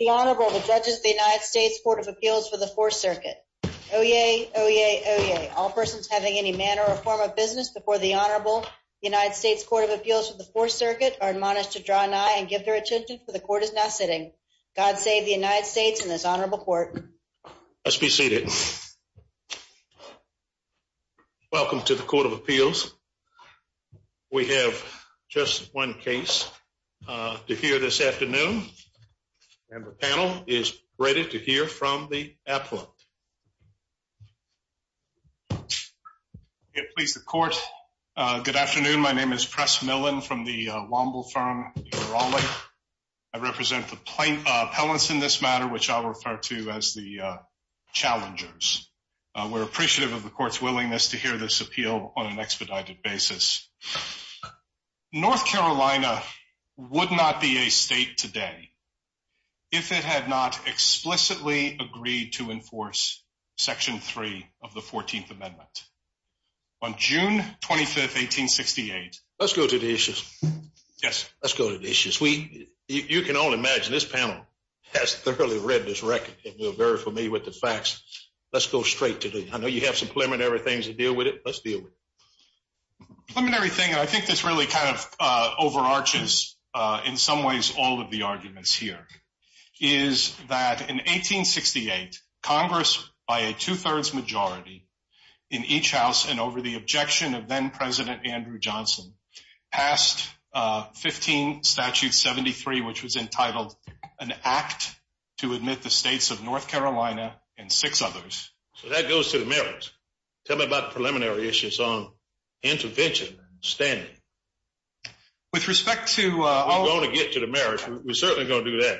The Honorable, the Judges of the United States Court of Appeals for the Fourth Circuit. Oyez! Oyez! Oyez! All persons having any manner or form of business before the Honorable, the United States Court of Appeals for the Fourth Circuit, are admonished to draw nigh and give their attendance, for the Court is now sitting. God save the United States and this Honorable Court. Let's be seated. Welcome to the Court of Appeals. We have just one case to hear this afternoon, and the panel is ready to hear from the affluent. Please, the Court. Good afternoon. My name is Press Millen from the Womble firm. I represent the plaintiffs in this matter, which I'll refer to as the challengers. We're appreciative of the Court's willingness to hear this appeal on an expedited basis. North Carolina would not be a state today if it had not explicitly agreed to enforce Section 3 of the 14th Amendment. On June 25, 1868… Let's go to the issues. Yes. Let's go to the issues. You can all imagine, this panel has thoroughly read this record, and you're very familiar with the facts. Let's go straight to the… I know you have some preliminary things to deal with it. Let's deal with it. The preliminary thing, and I think this really kind of overarches, in some ways, all of the arguments here, is that in 1868, Congress, by a two-thirds majority in each house and over the objection of then-President Andrew Johnson, passed 15 Statute 73, which was entitled, An Act to Admit the States of North Carolina and Six Others. That goes to the merits. Tell me about the preliminary issues on intervention and standing. With respect to… We're going to get to the merits. We're certainly going to do that.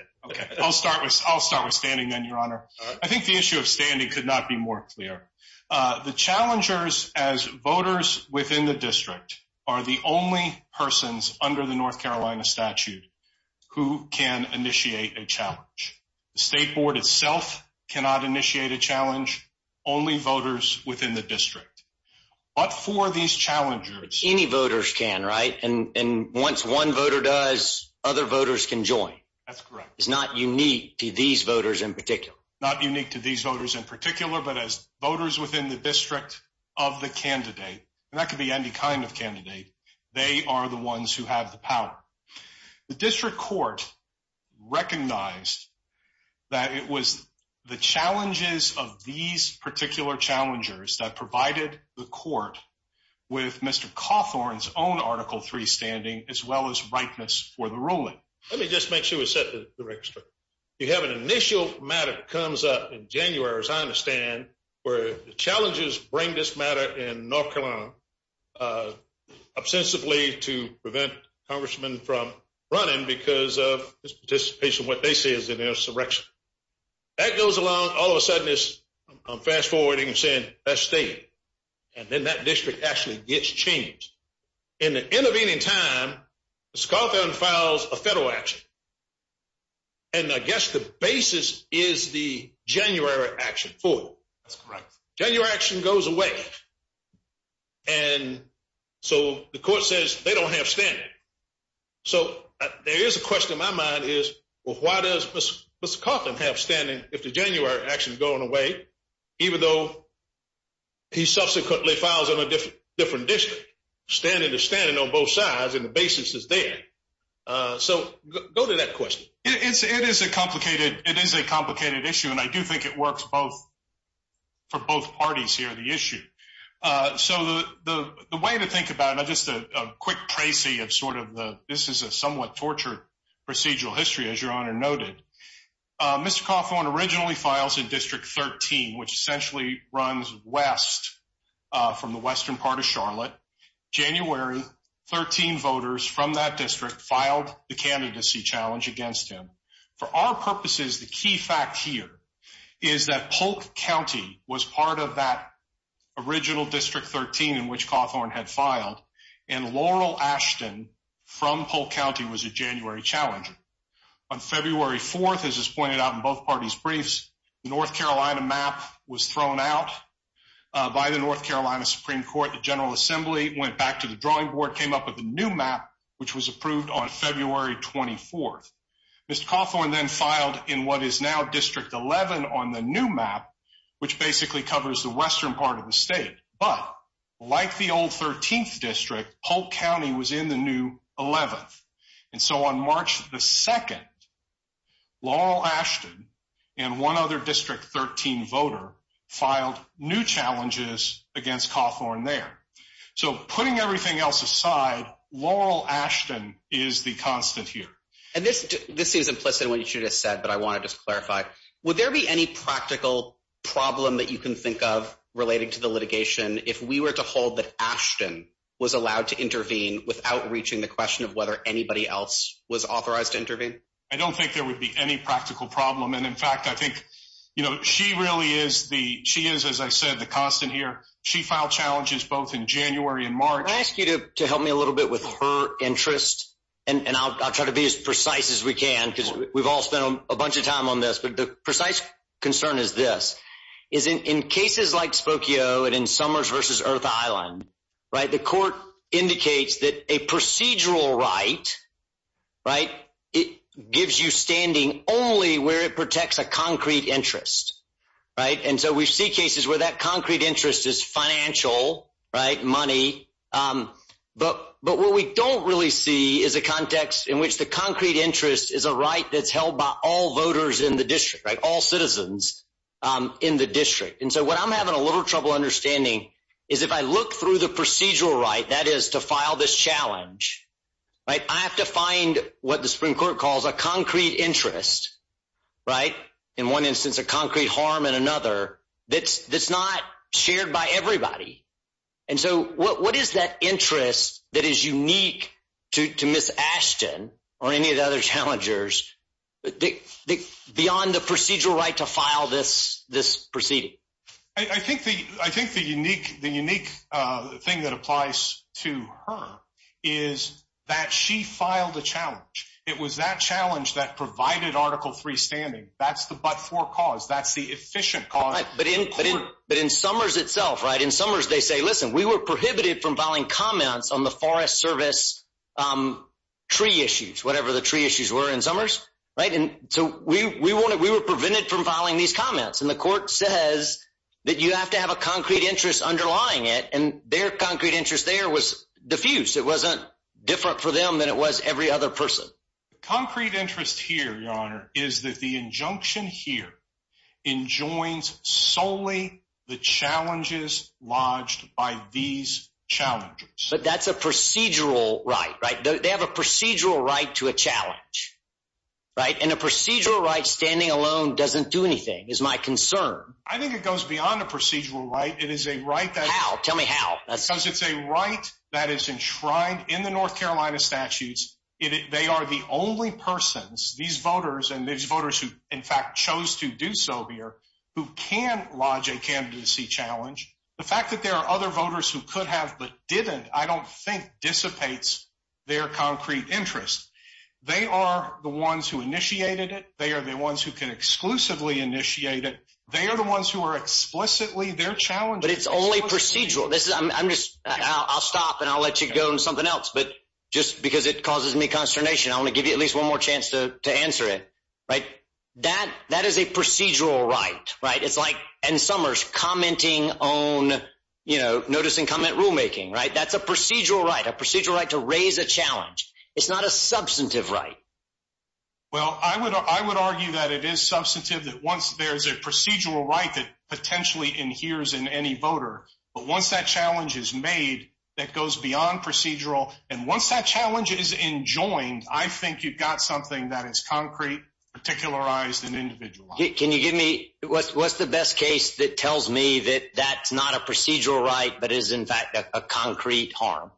I'll start with standing, then, Your Honor. I think the issue of standing could not be more clear. The challengers, as voters within the district, are the only persons under the North Carolina statute who can initiate a challenge. The State Board itself cannot initiate a challenge, only voters within the district. But for these challengers… Any voters can, right? And once one voter does, other voters can join. That's correct. It's not unique to these voters in particular. Not unique to these voters in particular, but as voters within the district of the candidate, and that could be any kind of candidate, they are the ones who have the power. The district court recognized that it was the challenges of these particular challengers that provided the court with Mr. Cawthorn's own Article III standing, as well as rightness for the ruling. Let me just make sure we set the record straight. You have an initial matter that comes up in January, as I understand, where the challengers bring this matter in North Carolina, ostensibly to prevent the congressman from running because of his participation in what they say is an insurrection. That goes along. All of a sudden, it's fast-forwarding and saying, that's stated. And then that district actually gets changed. In the intervening time, Mr. Cawthorn files a federal action. And I guess the basis is the January action. That's correct. January action goes away. And so the court says they don't have standing. So there is a question in my mind is, well, why does Mr. Cawthorn have standing if the January action is going away, even though he subsequently files on a different district? Standing is standing on both sides, and the basis is there. So go to that question. It is a complicated issue, and I do think it works for both parties here, the issue. So the way to think about it, just a quick tracy of sort of this is a somewhat tortured procedural history, as Your Honor noted. Mr. Cawthorn originally files in District 13, which essentially runs west from the western part of Charlotte. January, 13 voters from that district filed the candidacy challenge against him. For our purposes, the key fact here is that Polk County was part of that original District 13 in which Cawthorn had filed, and Laurel Ashton from Polk County was a January challenger. On February 4th, as is pointed out in both parties' briefs, the North Carolina map was thrown out by the North Carolina Supreme Court, the General Assembly, went back to the drawing board, came up with a new map, which was approved on February 24th. Mr. Cawthorn then filed in what is now District 11 on the new map, which basically covers the western part of the state. But like the old 13th District, Polk County was in the new 11th. And so on March 2nd, Laurel Ashton and one other District 13 voter filed new challenges against Cawthorn there. So putting everything else aside, Laurel Ashton is the constant here. And this is implicit in what you just said, but I want to just clarify. Would there be any practical problem that you can think of related to the litigation if we were to hold that Ashton was allowed to intervene without reaching the question of whether anybody else was authorized to intervene? I don't think there would be any practical problem. And in fact, I think she really is the – she is, as I said, the constant here. She filed challenges both in January and March. I'm going to ask you to help me a little bit with her interest, and I'll try to be as precise as we can because we've all spent a bunch of time on this. But the precise concern is this, is in cases like Spokio and in Summers v. Earth Island, the court indicates that a procedural right gives you standing only where it protects a concrete interest. And so we see cases where that concrete interest is financial, money. But what we don't really see is a context in which the concrete interest is a right that's held by all voters in the district, all citizens in the district. And so what I'm having a little trouble understanding is if I look through the procedural right, that is, to file this challenge, I have to find what the Supreme Court calls a concrete interest. In one instance, a concrete harm in another that's not shared by everybody. And so what is that interest that is unique to Ms. Ashton or any of the other challengers beyond the procedural right to file this proceeding? I think the unique thing that applies to her is that she filed the challenge. It was that challenge that provided Article III standing. That's the but-for cause. That's the efficient cause. But in Summers itself, right, in Summers they say, listen, we were prohibited from filing comments on the Forest Service tree issues, whatever the tree issues were in Summers, right? And so we were prevented from filing these comments. And the court says that you have to have a concrete interest underlying it. And their concrete interest there was diffuse. It wasn't different for them than it was every other person. The concrete interest here, Your Honor, is that the injunction here enjoins solely the challenges lodged by these challengers. But that's a procedural right, right? They have a procedural right to a challenge, right? And a procedural right standing alone doesn't do anything is my concern. I think it goes beyond a procedural right. It is a right that… How? Tell me how. Because it's a right that is enshrined in the North Carolina statutes. They are the only persons, these voters, and these voters who, in fact, chose to do so here, who can lodge a candidacy challenge. The fact that there are other voters who could have but didn't I don't think dissipates their concrete interest. They are the ones who initiated it. They are the ones who can exclusively initiate it. They are the ones who are explicitly their challengers. But it's only procedural. I'll stop, and I'll let you go on something else. But just because it causes me consternation, I want to give you at least one more chance to answer it. That is a procedural right, right? It's like N. Summers commenting on notice-and-comment rulemaking, right? That's a procedural right, a procedural right to raise a challenge. It's not a substantive right. Well, I would argue that it is substantive that once there is a procedural right that potentially adheres in any voter. But once that challenge is made, that goes beyond procedural. And once that challenge is enjoined, I think you've got something that is concrete, particularized, and individualized. Can you give me what's the best case that tells me that that's not a procedural right but is, in fact, a concrete harm?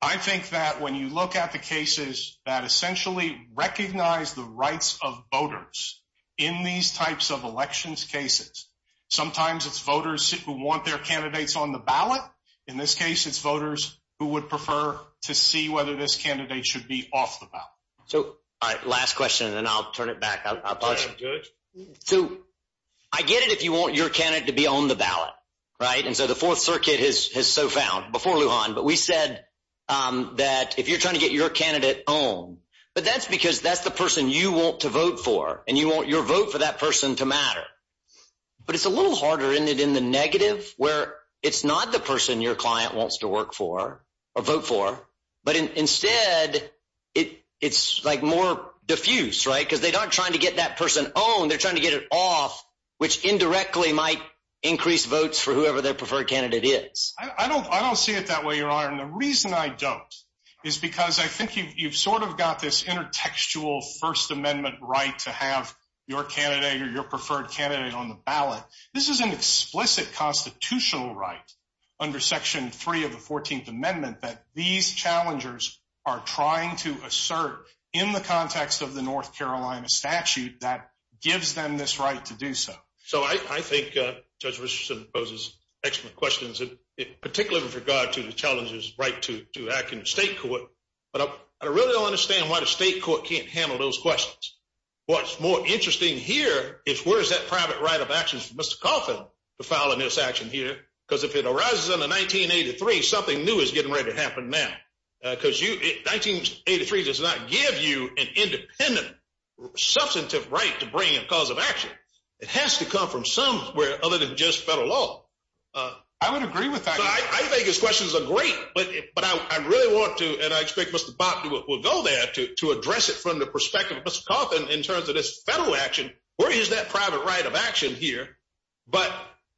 I think that when you look at the cases that essentially recognize the rights of voters in these types of elections cases, sometimes it's voters who want their candidates on the ballot. In this case, it's voters who would prefer to see whether this candidate should be off the ballot. All right, last question, and then I'll turn it back. I'll pause you. I get it if you want your candidate to be on the ballot, right? And so the Fourth Circuit has so found before Lujan. But we said that if you're trying to get your candidate on, but that's because that's the person you want to vote for, and you want your vote for that person to matter. But it's a little harder in it in the negative where it's not the person your client wants to work for or vote for. But instead, it's like more diffuse, right, because they're not trying to get that person on. They're trying to get it off, which indirectly might increase votes for whoever their preferred candidate is. I don't see it that way, Your Honor. And the reason I don't is because I think you've sort of got this intertextual First Amendment right to have your candidate or your preferred candidate on the ballot. This is an explicit constitutional right under Section 3 of the 14th Amendment that these challengers are trying to assert in the context of the North Carolina statute that gives them this right to do so. So I think Judge Richardson poses excellent questions, particularly with regard to the challenger's right to act in the state court. But I really don't understand why the state court can't handle those questions. What's more interesting here is where is that private right of action for Mr. Cawthon to file in this action here? Because if it arises under 1983, something new is getting ready to happen now. Because 1983 does not give you an independent substantive right to bring in a cause of action. It has to come from somewhere other than just federal law. I would agree with that. I think his questions are great. But I really want to, and I expect Mr. Box will go there to address it from the perspective of Mr. Cawthon in terms of this federal action. Where is that private right of action here? But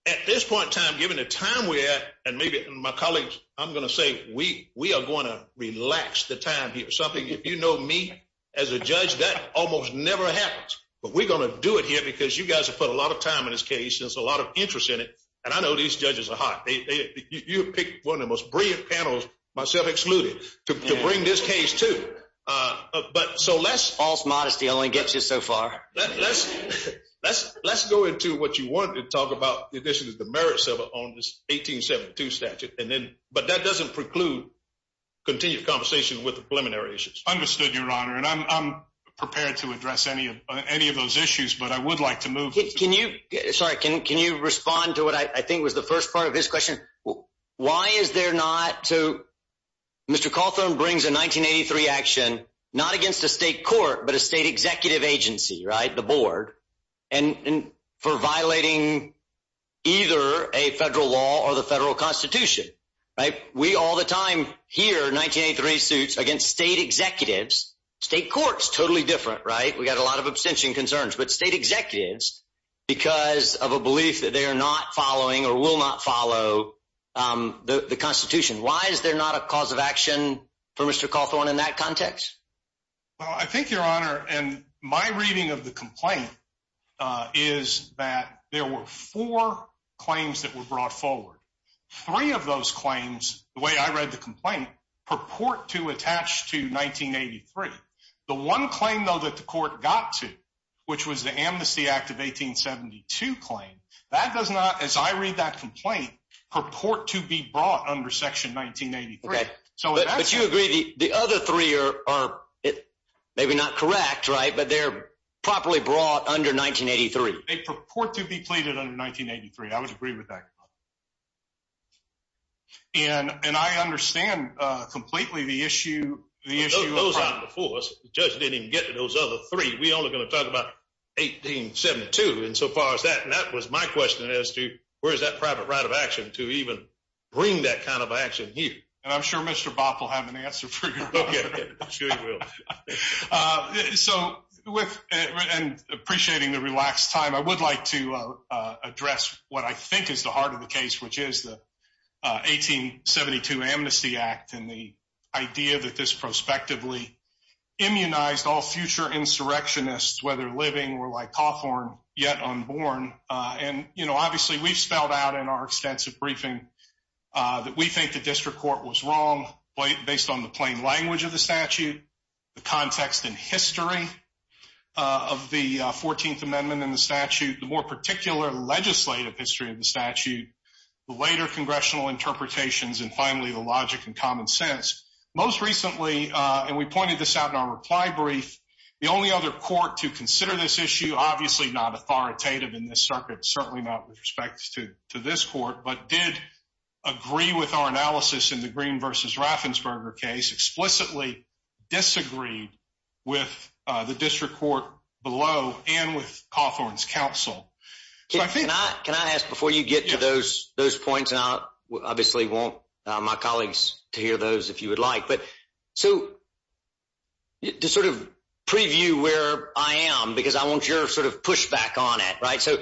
at this point in time, given the time we have, and maybe my colleagues, I'm going to say we are going to relax the time here. If you know me as a judge, that almost never happens. But we're going to do it here because you guys have put a lot of time in this case and a lot of interest in it. And I know these judges are hot. You have picked one of the most brilliant panels, myself excluded, to bring this case to. False modesty only gets you so far. Let's go into what you want to talk about in addition to the merits of it on this 1872 statute. But that doesn't preclude continued conversation with the preliminary issues. I understood, Your Honor, and I'm prepared to address any of those issues, but I would like to move. Can you respond to what I think was the first part of his question? Why is there not to – Mr. Cawthon brings a 1983 action, not against the state court, but a state executive agency, right, the board, and for violating either a federal law or the federal constitution, right? We all the time hear 1983 suits against state executives. State court is totally different, right? We've got a lot of abstention concerns. But state executives, because of a belief that they are not following or will not follow the constitution, why is there not a cause of action for Mr. Cawthon in that context? Well, I think, Your Honor, and my reading of the complaint is that there were four claims that were brought forward. Three of those claims, the way I read the complaint, purport to attach to 1983. The one claim, though, that the court got to, which was the Amnesty Act of 1872 claim, that does not, as I read that complaint, purport to be brought under Section 1983. But you agree the other three are maybe not correct, right, but they're properly brought under 1983. They purport to be pleaded under 1983. I would agree with that. And I understand completely the issue. The judge didn't even get to those other three. We all are going to talk about 1872. And so far as that, that was my question as to where is that private right of action to even bring that kind of action here? I'm sure Mr. Bopp will have an answer for you. I'm sure he will. So, appreciating the relaxed time, I would like to address what I think is the heart of the case, which is the 1872 Amnesty Act and the idea that this prospectively immunized all future insurrectionists, whether living or like Cawthon, yet unborn. And, you know, obviously we've spelled out in our extensive briefing that we think the district court was wrong, based on the plain language of the statute, the context and history of the 14th Amendment in the statute, the more particular legislative history of the statute, the later congressional interpretations, and finally the logic and common sense. Most recently, and we pointed this out in our reply brief, the only other court to consider this issue, obviously not authoritative in this circuit, certainly not with respect to this court, but did agree with our analysis in the Green v. Raffensperger case, explicitly disagreed with the district court below and with Cawthon's counsel. Can I ask before you get to those points, and I obviously want my colleagues to hear those if you would like, but to sort of preview where I am, because I want your sort of pushback on it, right? So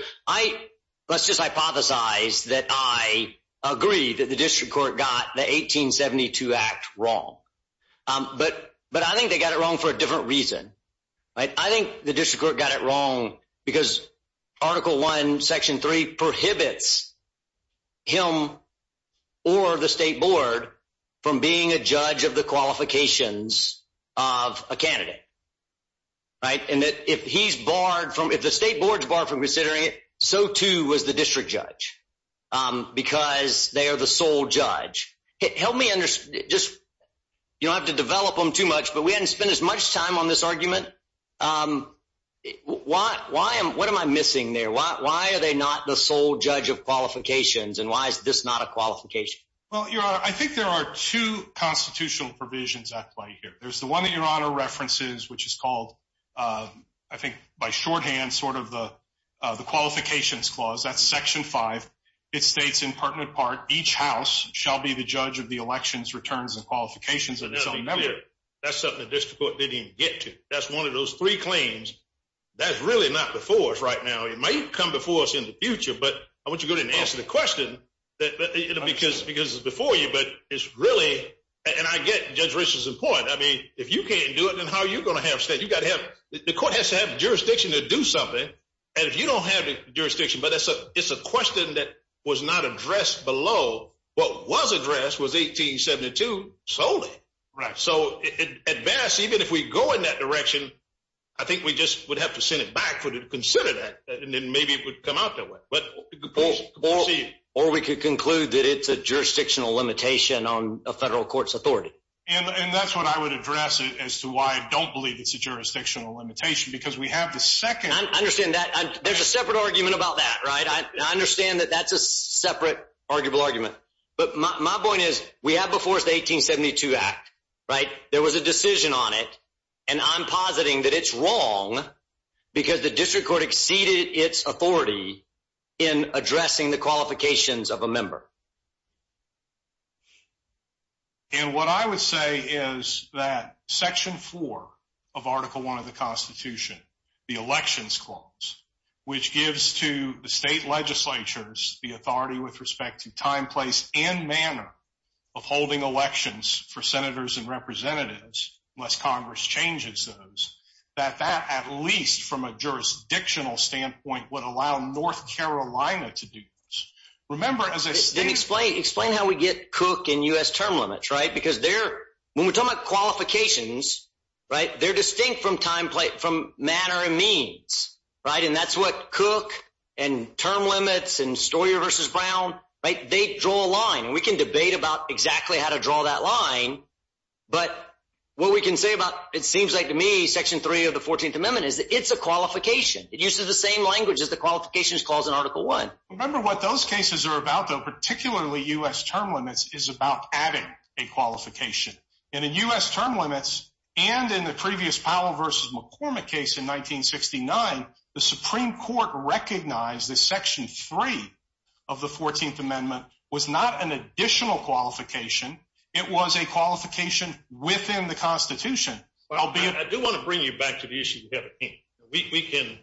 let's just hypothesize that I agree that the district court got the 1872 Act wrong, but I think they got it wrong for a different reason. I think the district court got it wrong because Article I, Section 3, prohibits him or the state board from being a judge of the qualifications of a candidate, right? And if the state board is barred from considering it, so too is the district judge because they are the sole judge. Help me understand. You don't have to develop them too much, but we haven't spent as much time on this argument. What am I missing there? Why are they not the sole judge of qualifications, and why is this not a qualification? Well, Your Honor, I think there are two constitutional provisions at play here. There's the one that Your Honor references, which is called, I think by shorthand, sort of the qualifications clause. That's Section 5. It states in part and in part, each house shall be the judge of the elections, returns, and qualifications of its own member. That's something the district court didn't even get to. That's one of those three claims. That's really not before us right now. It might come before us in the future, but I want you to go ahead and ask the question because it's before you. But it's really, and I get Judge Richard's point. I mean, if you can't do it, then how are you going to have a say? The court has to have jurisdiction to do something, and if you don't have jurisdiction, but it's a question that was not addressed below. What was addressed was 1872 solely. Right, so at best, even if we go in that direction, I think we just would have to send it back to consider that, and then maybe it would come out that way. Or we could conclude that it's a jurisdictional limitation on a federal court's authority. And that's what I would address as to why I don't believe it's a jurisdictional limitation because we have the second. I understand that. There's a separate argument about that, right? I understand that that's a separate arguable argument. But my point is we have the Fourth 1872 Act, right? There was a decision on it, and I'm positing that it's wrong because the district court exceeded its authority in addressing the qualifications of a member. And what I would say is that Section 4 of Article I of the Constitution, the Elections Clause, which gives to the state legislatures the authority with respect to time, place, and manner of holding elections for senators and representatives, unless Congress changes those, that that, at least from a jurisdictional standpoint, would allow North Carolina to do this. Explain how we get Cook and U.S. term limits, right? Because when we're talking about qualifications, they're distinct from manner and means, right? And that's what Cook and term limits and Stoyer v. Brown, they draw a line. We can debate about exactly how to draw that line. But what we can say about it seems like to me Section 3 of the 14th Amendment is it's a qualification. It uses the same language as the qualifications clause in Article I. Remember what those cases are about, though, particularly U.S. term limits, is about adding a qualification. And in U.S. term limits and in the previous Powell v. McCormick case in 1969, the Supreme Court recognized that Section 3 of the 14th Amendment was not an additional qualification. It was a qualification within the Constitution. I do want to bring you back to the issue we have at hand.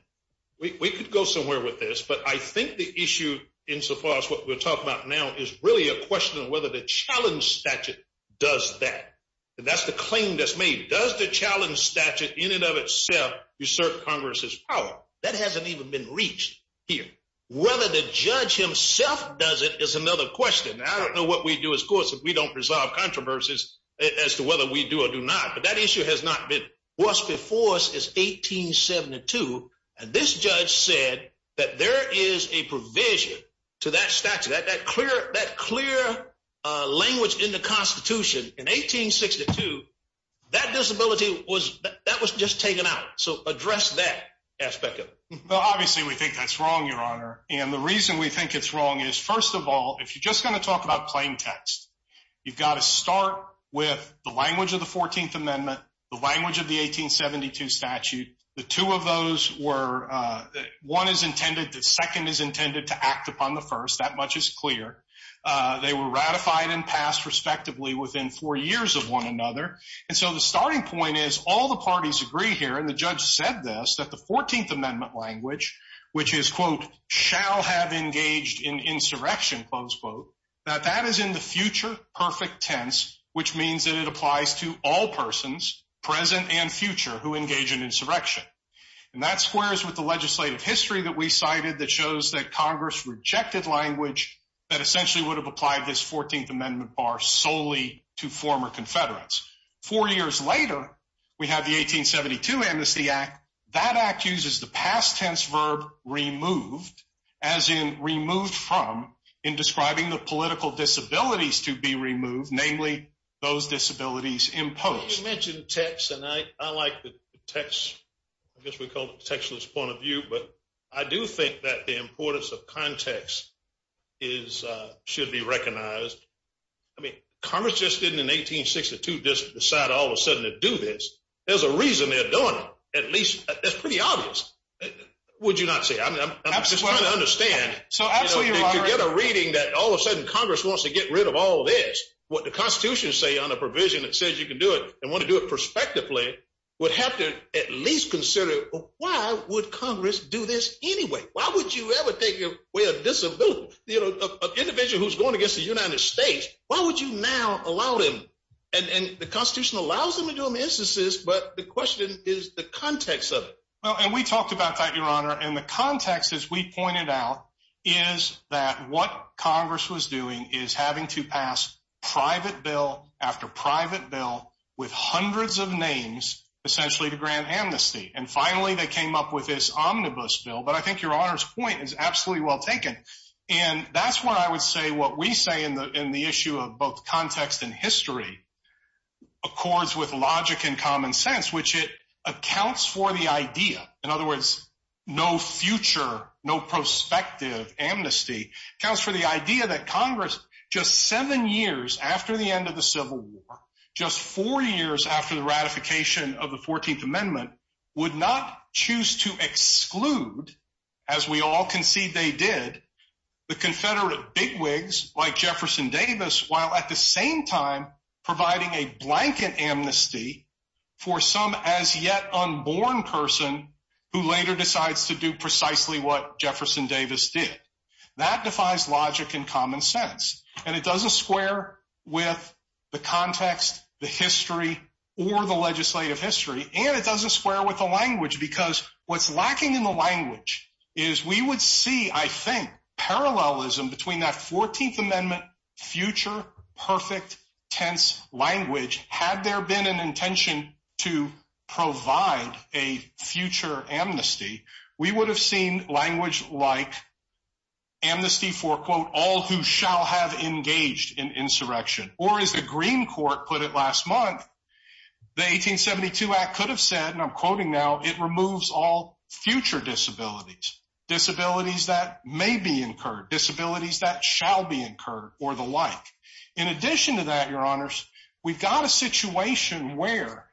We can go somewhere with this, but I think the issue insofar as what we're talking about now is really a question of whether the challenge statute does that. And that's the claim that's made. Does the challenge statute in and of itself assert Congress's power? That hasn't even been reached here. Whether the judge himself does it is another question. I don't know what we do as courts if we don't resolve controversies as to whether we do or do not. But that issue has not been forced before us since 1872. And this judge said that there is a provision to that statute. That clear language in the Constitution in 1862, that disability was just taken out. So address that aspect of it. Obviously, we think that's wrong, Your Honor. And the reason we think it's wrong is, first of all, if you're just going to talk about plain text, you've got to start with the language of the 14th Amendment, the language of the 1872 statute. The two of those were one is intended, the second is intended to act upon the first. That much is clear. They were ratified and passed respectively within four years of one another. And so the starting point is all the parties agree here, and the judge said this, that the 14th Amendment language, which is, quote, shall have engaged in insurrection, close quote, that that is in the future perfect tense, which means that it applies to all persons, present and future, who engage in insurrection. And that squares with the legislative history that we cited that shows that Congress rejected language that essentially would have applied this 14th Amendment bar solely to former Confederates. Four years later, we have the 1872 Amnesty Act. That act uses the past tense verb removed, as in removed from, in describing the political disabilities to be removed, namely those disabilities imposed. You mentioned text, and I like the text, I guess we call it textless point of view, but I do think that the importance of context is, should be recognized. I mean, Congress just didn't in 1862 just decide all of a sudden to do this. There's a reason they're doing it. At least, it's pretty obvious. Would you not say? I'm just trying to understand. You get a reading that all of a sudden Congress wants to get rid of all this. What the Constitution is saying on a provision that says you can do it and want to do it prospectively would have to at least consider why would Congress do this anyway? Why would you ever think of, well, this is an individual who's going against the United States. Why would you now allow them? And the Constitution allows them to do them in instances, but the question is the context of it. And we talked about that, Your Honor, and the context, as we pointed out, is that what Congress was doing is having to pass private bill after private bill with hundreds of names essentially to grant amnesty. And finally, they came up with this omnibus bill, but I think Your Honor's point is absolutely well taken. And that's why I would say what we say in the issue of both context and history accords with logic and common sense, which it accounts for the idea. In other words, no future, no prospective amnesty accounts for the idea that Congress, just seven years after the end of the Civil War, just four years after the ratification of the 14th Amendment, would not choose to exclude, as we all concede they did, the Confederate bigwigs like Jefferson Davis while at the same time providing a blanket amnesty for some as yet unborn person who later decides to do precisely what Jefferson Davis did. That defies logic and common sense, and it doesn't square with the context, the history, or the legislative history, and it doesn't square with the language because what's lacking in the language is we would see, I think, parallelism between that 14th Amendment future perfect tense language. Had there been an intention to provide a future amnesty, we would have seen language like amnesty for, quote, all who shall have engaged in insurrection. Or as the Green Court put it last month, the 1872 Act could have said, and I'm quoting now, it removes all future disabilities, disabilities that may be incurred, disabilities that shall be incurred, or the like. In addition to that, Your Honors, we've got a situation where,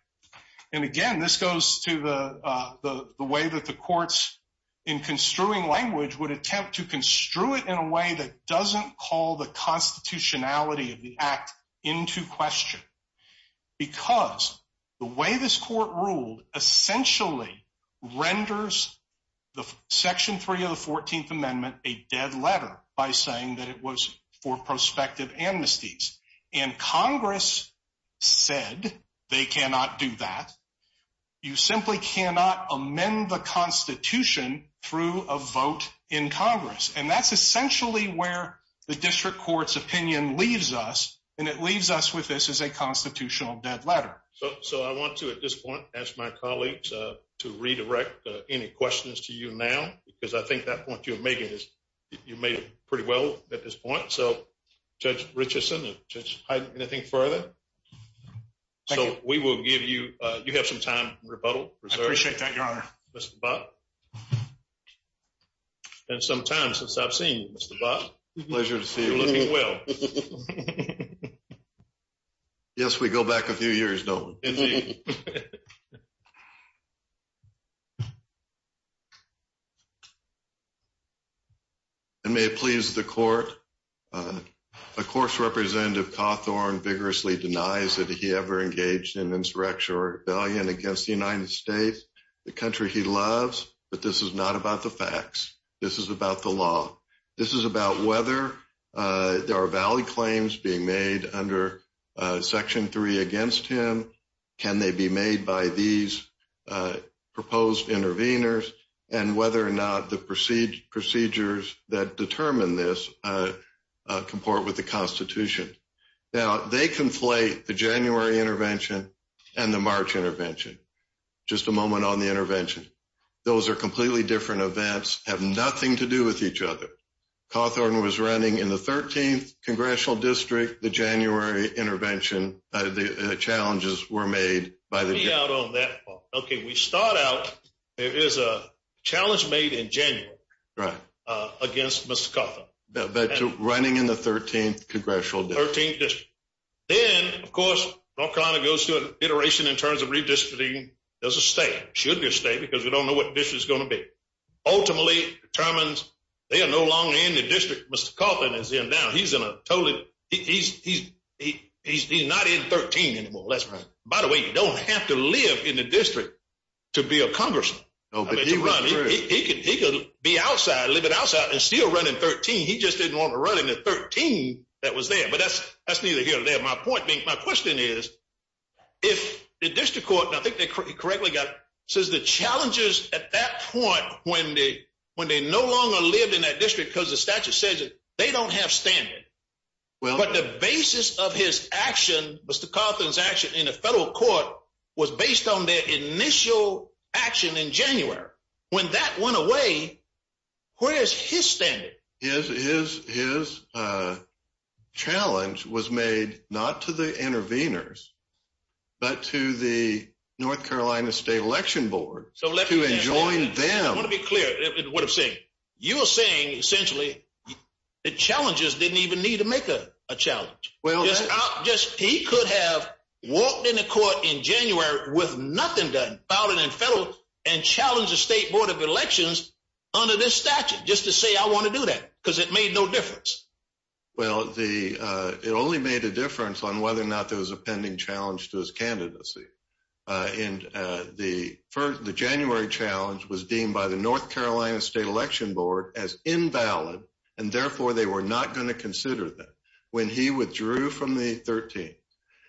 and again, this goes to the way that the courts in construing language would attempt to construe it in a way that doesn't call the constitutionality of the Act into question. Because the way this court ruled essentially renders the Section 3 of the 14th Amendment a dead letter by saying that it was for prospective amnesties, and Congress said they cannot do that. You simply cannot amend the Constitution through a vote in Congress, and that's essentially where the district court's opinion leaves us, and it leaves us with this as a constitutional dead letter. So, I want to, at this point, ask my colleagues to redirect any questions to you now, because I think that point you're making is, you made it pretty well at this point. So, Judge Richardson, Judge Hyde, anything further? So, we will give you, you have some time to rebuttal. I appreciate that, Your Honor. Mr. Buck? It's been some time since I've seen you, Mr. Buck. Pleasure to see you. You're looking well. Yes, we go back a few years, don't we? I may have pleased the court. Of course, Representative Cawthorn vigorously denies that he ever engaged in insurrection or rebellion against the United States, the country he loves, but this is not about the facts. This is about the law. This is about whether there are valid claims being made under Section 3 against him, can they be made by these proposed interveners, and whether or not the procedures that determine this comport with the Constitution. Now, they conflate the January intervention and the March intervention. Just a moment on the intervention. Those are completely different events, have nothing to do with each other. Cawthorn was running in the 13th Congressional District, the January intervention, and the challenges were made by the— Let me out on that part. Okay, we start out, there is a challenge made in January against Mr. Cawthorn. Running in the 13th Congressional District. 13th District. Then, of course, North Carolina goes through an iteration in terms of redistricting as a state, should be a state, because we don't know what district it's going to be. Ultimately, it determines they are no longer in the district Mr. Cawthorn is in now. He's not in 13 anymore. By the way, you don't have to live in the district to be a Congressman. He could be outside, live outside, and still run in 13. He just didn't want to run in the 13 that was there. But that's neither here nor there. My point, my question is, if the district court, and I think they correctly got it, says the challenges at that point, when they no longer live in that district because the statute says it, they don't have standing. But the basis of his action, Mr. Cawthorn's action in the federal court, was based on their initial action in January. When that went away, where is his standing? His challenge was made not to the interveners, but to the North Carolina State Election Board to enjoin them. I want to be clear in what I'm saying. You are saying, essentially, the challenges didn't even need to make a challenge. He could have walked into court in January with nothing done, filed it in federal, and challenged the State Board of Elections under this statute just to say, I want to do that, because it made no difference. Well, it only made a difference on whether or not there was a pending challenge to this candidacy. The January challenge was deemed by the North Carolina State Election Board as invalid, and therefore they were not going to consider that. When he withdrew from the 13th,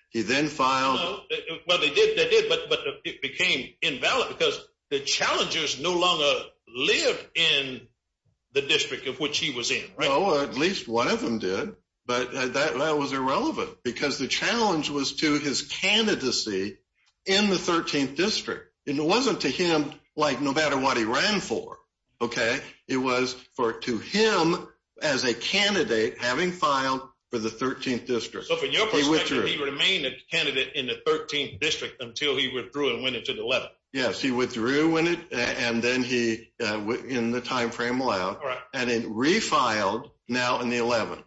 he then filed- Well, they did, but it became invalid because the challengers no longer lived in the district of which he was in. Well, at least one of them did, but that was irrelevant, because the challenge was to his candidacy in the 13th district. It wasn't to him, like, no matter what he ran for. It was to him, as a candidate, having filed for the 13th district. But he remained a candidate in the 13th district until he withdrew and went into the 11th. Yes, he withdrew, and then he, in the timeframe allowed, and then refiled, now in the 11th.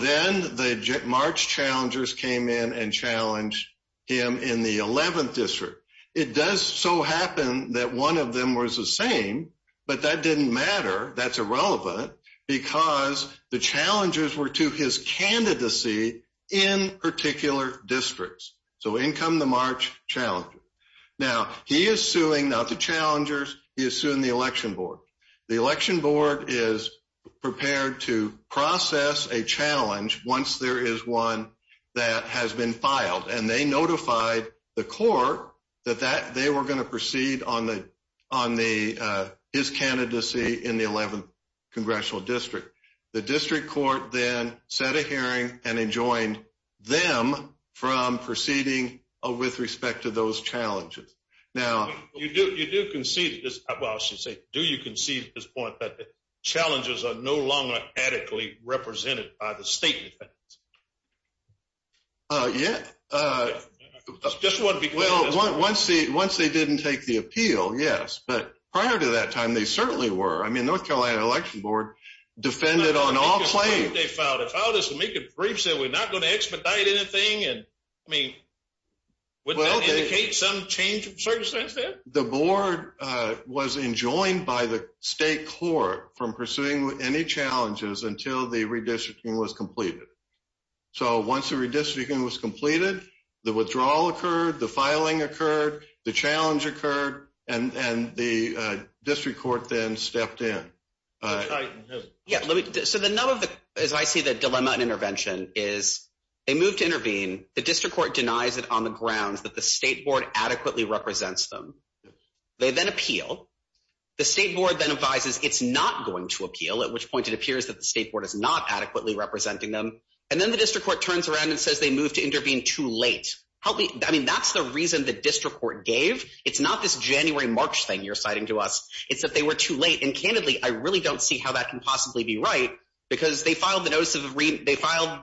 Then the March challengers came in and challenged him in the 11th district. It does so happen that one of them was the same, but that didn't matter. That's irrelevant, because the challengers were to his candidacy in particular districts. So, in come the March challengers. Now, he is suing, not the challengers, he is suing the election board. The election board is prepared to process a challenge once there is one that has been filed, and they notify the court that they were going to proceed on his candidacy in the 11th congressional district. The district court then set a hearing and enjoined them from proceeding with respect to those challenges. Now... You do concede, well, I should say, do you concede at this point that the challenges are no longer adequately represented by the state? Yeah. Just want to be clear. Once they didn't take the appeal, yes. But prior to that time, they certainly were. I mean, North Carolina election board defended on all claims. They filed it. Filed it to make a brief that we're not going to expedite anything. I mean, would that indicate some change in circumstance there? The board was enjoined by the state court from pursuing any challenges until the redistricting was completed. So, once the redistricting was completed, the withdrawal occurred, the filing occurred, the challenge occurred, and the district court then stepped in. Yeah. So, as I see the dilemma in intervention is they moved to intervene. The district court denies it on the ground that the state board adequately represents them. They then appeal. The state board then advises it's not going to appeal, at which point it appears that the state board is not adequately representing them. And then the district court turns around and says they moved to intervene too late. I mean, that's the reason the district court gave. It's not this January-March thing you're citing to us. It's that they were too late. And, candidly, I really don't see how that can possibly be right because they filed the notices of renewal. They filed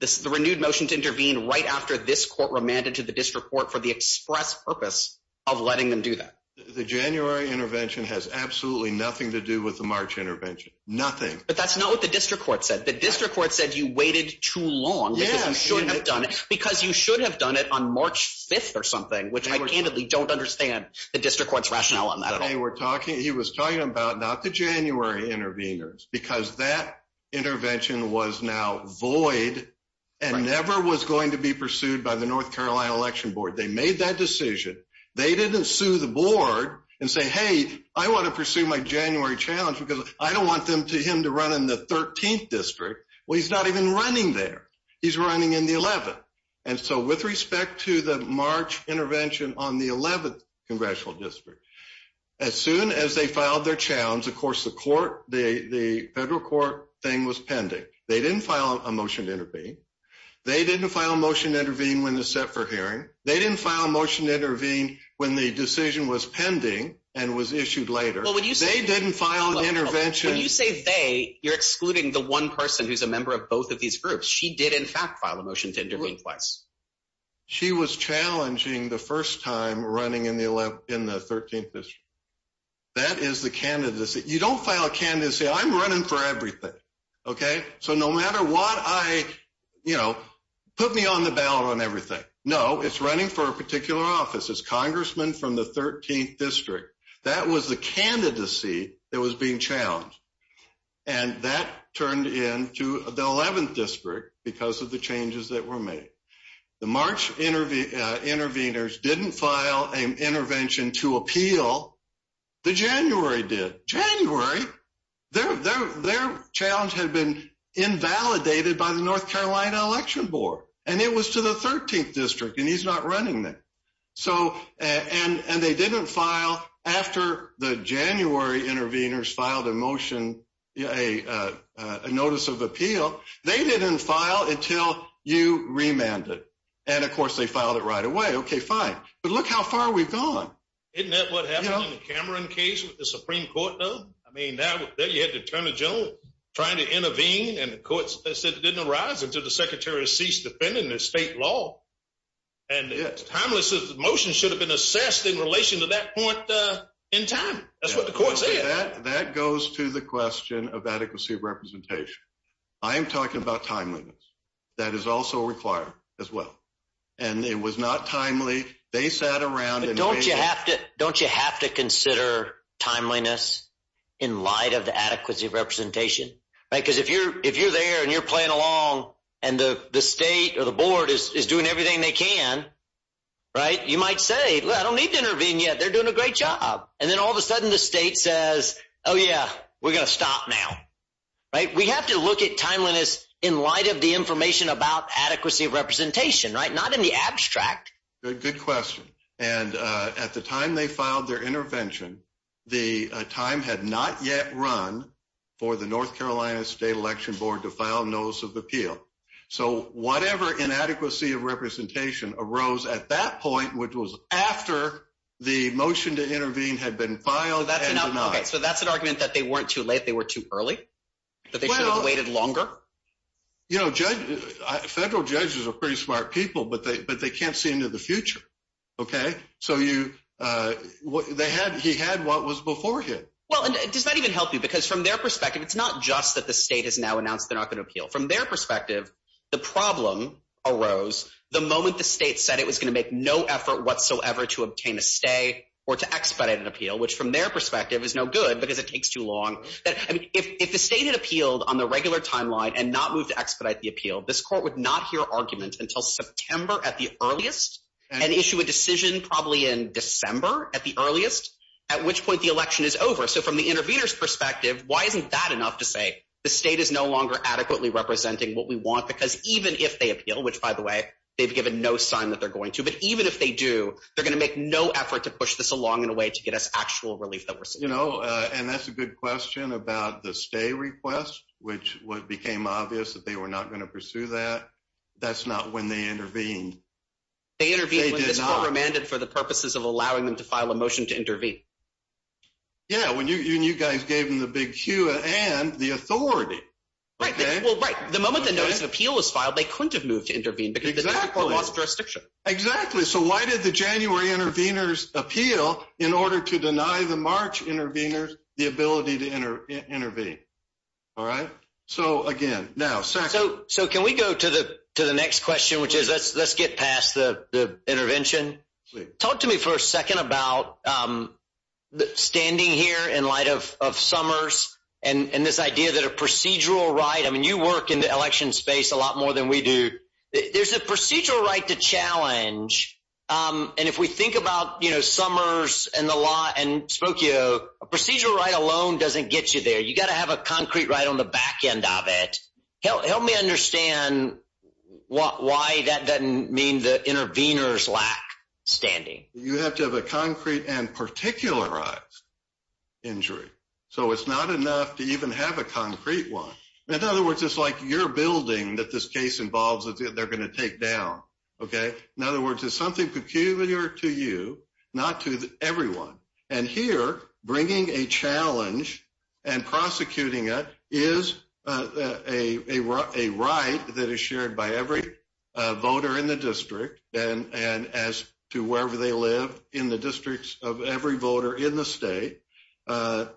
the renewed motion to intervene right after this court remanded to the district court for the express purpose of letting them do that. The January intervention has absolutely nothing to do with the March intervention, nothing. But that's not what the district court said. The district court said you waited too long because you shouldn't have done it because you should have done it on March 5th or something, which I candidly don't understand the district court's rationale on that. He was talking about not the January interveners because that intervention was now void and never was going to be pursued by the North Carolina Election Board. They made that decision. They didn't sue the board and say, hey, I want to pursue my January challenge because I don't want him to run in the 13th district. Well, he's not even running there. He's running in the 11th. And so with respect to the March intervention on the 11th congressional district, as soon as they filed their challenge, of course, the court, the federal court thing was pending. They didn't file a motion to intervene. They didn't file a motion to intervene when they set for hearing. They didn't file a motion to intervene when the decision was pending and was issued later. They didn't file an intervention. When you say they, you're excluding the one person who's a member of both of these groups. She did, in fact, file a motion to intervene twice. She was challenging the first time running in the 13th district. That is the candidacy. You don't file a candidacy. I'm running for everything, okay? So no matter what I, you know, put me on the ballot on everything. No, it's running for a particular office. It's congressmen from the 13th district. That was the candidacy that was being challenged. And that turned into the 11th district because of the changes that were made. The March intervenors didn't file an intervention to appeal. The January did. January, their challenge had been invalidated by the North Carolina election board, and it was to the 13th district, and he's not running there. And they didn't file after the January intervenors filed a motion, a notice of appeal. They didn't file until you remanded. And, of course, they filed it right away. Okay, fine. But look how far we've gone. Isn't that what happened in the Cameron case with the Supreme Court though? I mean, there you had the attorney general trying to intervene, and the court didn't arise until the secretary ceased defending the state law. And Timeless's motion should have been assessed in relation to that point in time. That's what the court said. That goes to the question of adequacy of representation. I am talking about timeliness. That is also required as well. And it was not timely. They sat around. Don't you have to consider timeliness in light of the adequacy of representation? Because if you're there and you're playing along and the state or the board is doing everything they can, you might say, well, I don't need to intervene yet. They're doing a great job. And then all of a sudden the state says, oh, yeah, we're going to stop now. We have to look at timeliness in light of the information about adequacy of representation, not in the abstract. Good question. And at the time they filed their intervention, the time had not yet run for the North Carolina State Election Board to file notice of appeal. So whatever inadequacy of representation arose at that point, which was after the motion to intervene had been filed and denied. So that's an argument that they weren't too late, they were too early? That they should have waited longer? You know, federal judges are pretty smart people, but they can't see into the future. Okay? So he had what was before him. Well, this might even help you because from their perspective, it's not just that the state has now announced they're not going to appeal. From their perspective, the problem arose the moment the state said it was going to make no effort whatsoever to obtain a stay or to expedite an appeal, which from their perspective is no good because it takes too long. If the state had appealed on the regular timeline and not moved to expedite the appeal, this court would not hear argument until September at the earliest and issue a decision probably in December at the earliest, at which point the election is over. So from the intervener's perspective, why isn't that enough to say the state is no longer adequately representing what we want? Because even if they appeal, which by the way, they've given no sign that they're going to, but even if they do, they're going to make no effort to push this along in a way to get us actual relief that we're seeking. You know, and that's a good question about the stay request, which became obvious that they were not going to pursue that. That's not when they intervened. They intervened when this court remanded for the purposes of allowing them to file a motion to intervene. Yeah, when you guys gave them the big cue and the authority. Right. Well, right. The moment the notice of appeal was filed, they couldn't have moved to intervene because of the jurisdiction. Exactly. So why did the January interveners appeal in order to deny the March interveners the ability to intervene? All right. So, again, now. So can we go to the next question, which is let's get past the intervention. Talk to me for a second about standing here in light of Summers and this idea that a procedural right, I mean, you work in the election space a lot more than we do. There's a procedural right to challenge. And if we think about, you know, Summers and the law and Spokio, a procedural right alone doesn't get you there. You've got to have a concrete right on the back end of it. Help me understand why that doesn't mean the interveners lack standing. You have to have a concrete and particularized injury. So it's not enough to even have a concrete one. In other words, it's like you're building that this case involves that they're going to take down. Okay? In other words, it's something peculiar to you, not to everyone. And here bringing a challenge and prosecuting it is a right that is shared by every voter in the district, and as to wherever they live in the districts of every voter in the state. And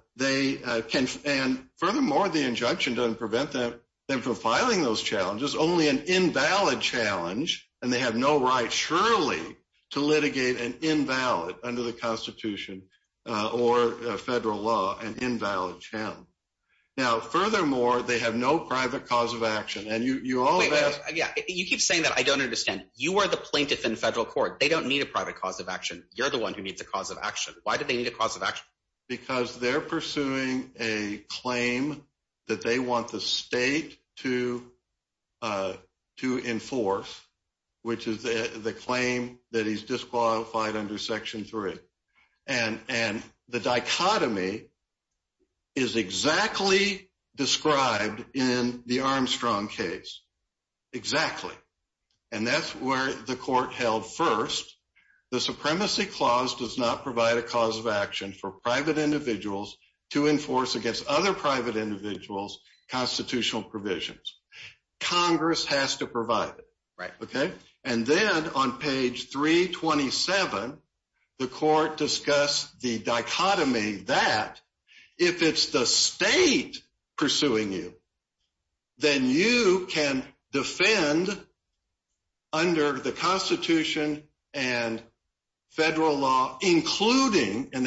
furthermore, the injunction doesn't prevent them from filing those challenges, only an invalid challenge, and they have no right surely to litigate an invalid under the Constitution or federal law, an invalid challenge. Now, furthermore, they have no private cause of action. And you all have – You keep saying that. I don't understand. You are the plaintiff in the federal court. They don't need a private cause of action. You're the one who needs the cause of action. Why do they need a cause of action? Because they're pursuing a claim that they want the state to enforce, which is the claim that he's disqualified under Section 3. And the dichotomy is exactly described in the Armstrong case. Exactly. And that's where the court held first. The supremacy clause does not provide a cause of action for private individuals to enforce against other private individuals constitutional provisions. Congress has to provide it. Right. Okay? And then on page 327, the court discussed the dichotomy that if it's the state pursuing you, then you can defend under the Constitution and federal law, including – from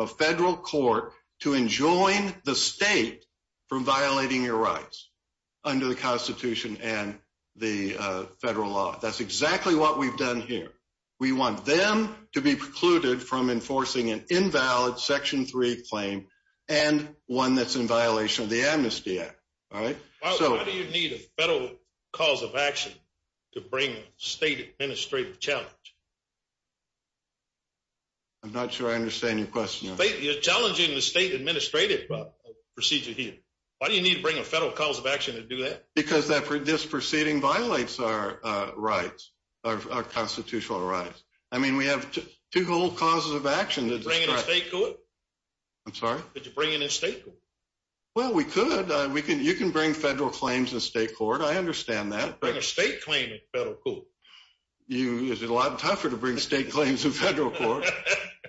a federal court to enjoin the state from violating your rights under the Constitution and the federal law. That's exactly what we've done here. We want them to be precluded from enforcing an invalid Section 3 claim and one that's in violation of the Amnesty Act. All right? Why do you need a federal cause of action to bring a state administrative challenge? I'm not sure I understand your question. You're challenging the state administrative procedure here. Why do you need to bring a federal cause of action to do that? Because this proceeding violates our constitutional rights. I mean, we have two whole causes of action. Did you bring it in state court? I'm sorry? Did you bring it in state court? Well, we could. You can bring federal claims in state court. I understand that. You can bring a state claim in federal court. It's a lot tougher to bring state claims in federal court,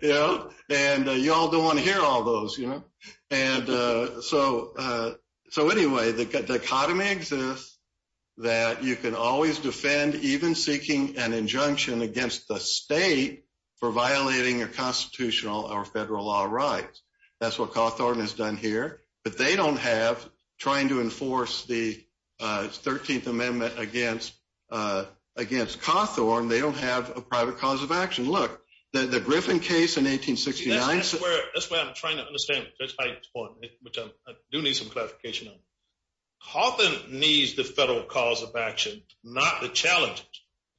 you know? And you all don't want to hear all those, you know? And so anyway, the dichotomy exists that you can always defend even seeking an injunction against the state for violating your constitutional or federal law rights. That's what Cawthorne has done here. But they don't have trying to enforce the 13th Amendment against Cawthorne. They don't have a private cause of action. Look, the Griffin case in 1869. That's where I'm trying to understand. I do need some clarification on this. Cawthorne needs the federal cause of action, not the challenges.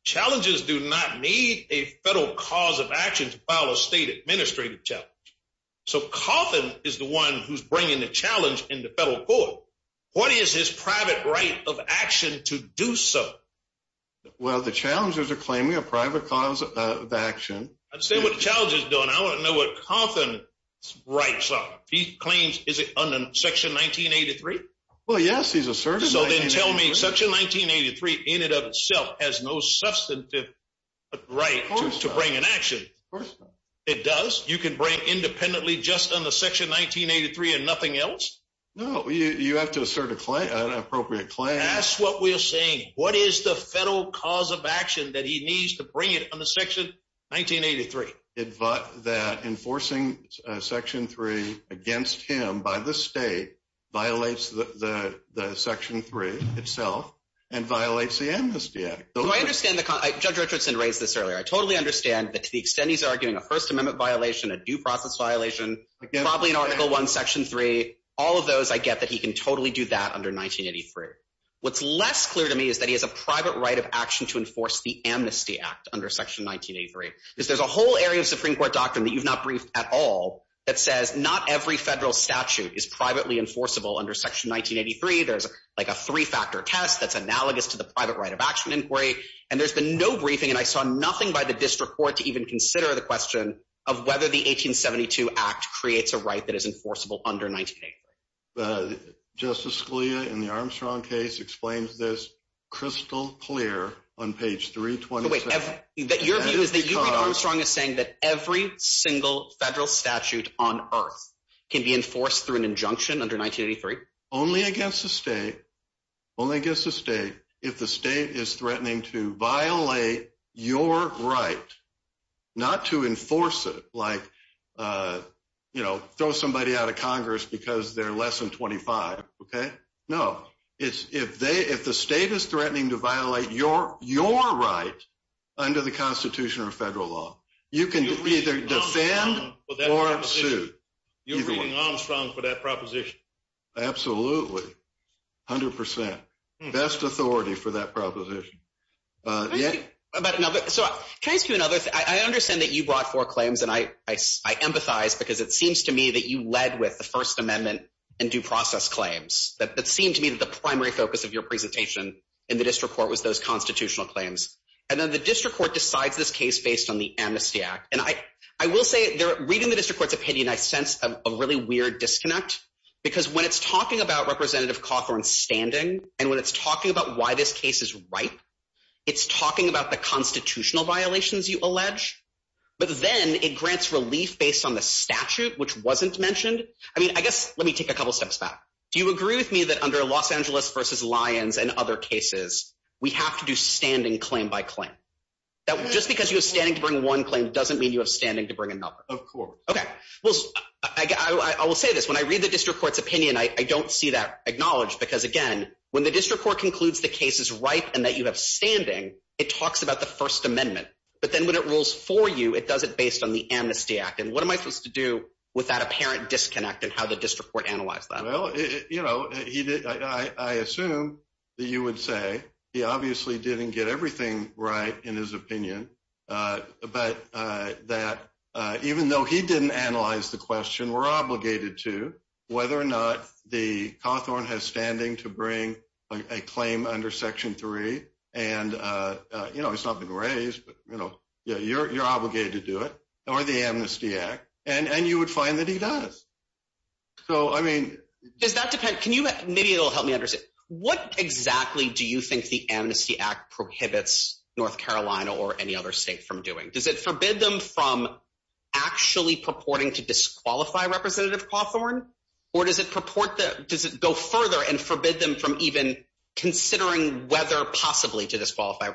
Challenges do not need a federal cause of action to file a state administrative challenge. So Cawthorne is the one who's bringing the challenge in the federal court. What is his private right of action to do so? Well, the challenges are claiming a private cause of action. I see what the challenge is doing. I want to know what Cawthorne's rights are. He claims, is it under Section 1983? Well, yes, he's asserted it. So then tell me Section 1983 in and of itself has no substantive right to bring an action. Of course not. It does? You can bring independently just under Section 1983 and nothing else? No, you have to assert an appropriate claim. That's what we're saying. What is the federal cause of action that he needs to bring under Section 1983? Enforcing Section 3 against him by the state violates the Section 3 itself and violates the Amnesty Act. Judge Richardson raised this earlier. I totally understand that to the extent he's arguing a First Amendment violation, a due process violation, probably in Article I, Section 3, all of those, I get that he can totally do that under 1983. What's less clear to me is that he has a private right of action to enforce the Amnesty Act under Section 1983. There's a whole area of Supreme Court doctrine that you've not briefed at all that says not every federal statute is privately enforceable under Section 1983. There's like a three-factor test that's analogous to the private right of action inquiry. And there's been no briefing, and I saw nothing by the district court to even consider the question of whether the 1872 Act creates a right that is enforceable under 1983. Justice Scalia in the Armstrong case explains this crystal clear on page 326. But wait, your view is that you think Armstrong is saying that every single federal statute on earth can be enforced through an injunction under 1983? Only against the state, only against the state, if the state is threatening to violate your right, not to enforce it like, you know, throw somebody out of Congress because they're less than 25, okay? No. If the state is threatening to violate your right under the Constitution or federal law, you can either defend or sue. You're suing Armstrong for that proposition? Absolutely, 100%. Best authority for that proposition. So trying to do another thing, I understand that you brought four claims, and I emphasize because it seems to me that you led with the First Amendment and due process claims. That seemed to me that the primary focus of your presentation in the district court was those constitutional claims. And then the district court decides this case based on the Amnesty Act. And I will say, reading the district court opinion, I sense a really weird disconnect. Because when it's talking about Representative Cochran's standing and when it's talking about why this case is ripe, it's talking about the constitutional violations you allege, but then it grants relief based on the statute, which wasn't mentioned. I mean, I guess let me take a couple steps back. Do you agree with me that under Los Angeles v. Lyons and other cases, we have to do standing claim by claim? Just because you have standing to bring one claim doesn't mean you have standing to bring another. Of course. Okay. I will say this. When I read the district court's opinion, I don't see that acknowledged because, again, when the district court concludes the case is ripe and that you have standing, it talks about the First Amendment. But then when it rules for you, it does it based on the Amnesty Act. And what am I supposed to do with that apparent disconnect and how the district court analyzed that? Well, you know, I assume that you would say he obviously didn't get everything right in his opinion, but that even though he didn't analyze the question, we're obligated to whether or not the Cochran has standing to bring a claim under Section 3. And, you know, it's not been raised, but, you know, you're obligated to do it or the Amnesty Act. And you would find that he does. So, I mean… That depends. Maybe it will help me understand. What exactly do you think the Amnesty Act prohibits North Carolina or any other state from doing? Does it forbid them from actually purporting to disqualify Representative Cochran? Or does it purport to go further and forbid them from even considering whether possibly to disqualify?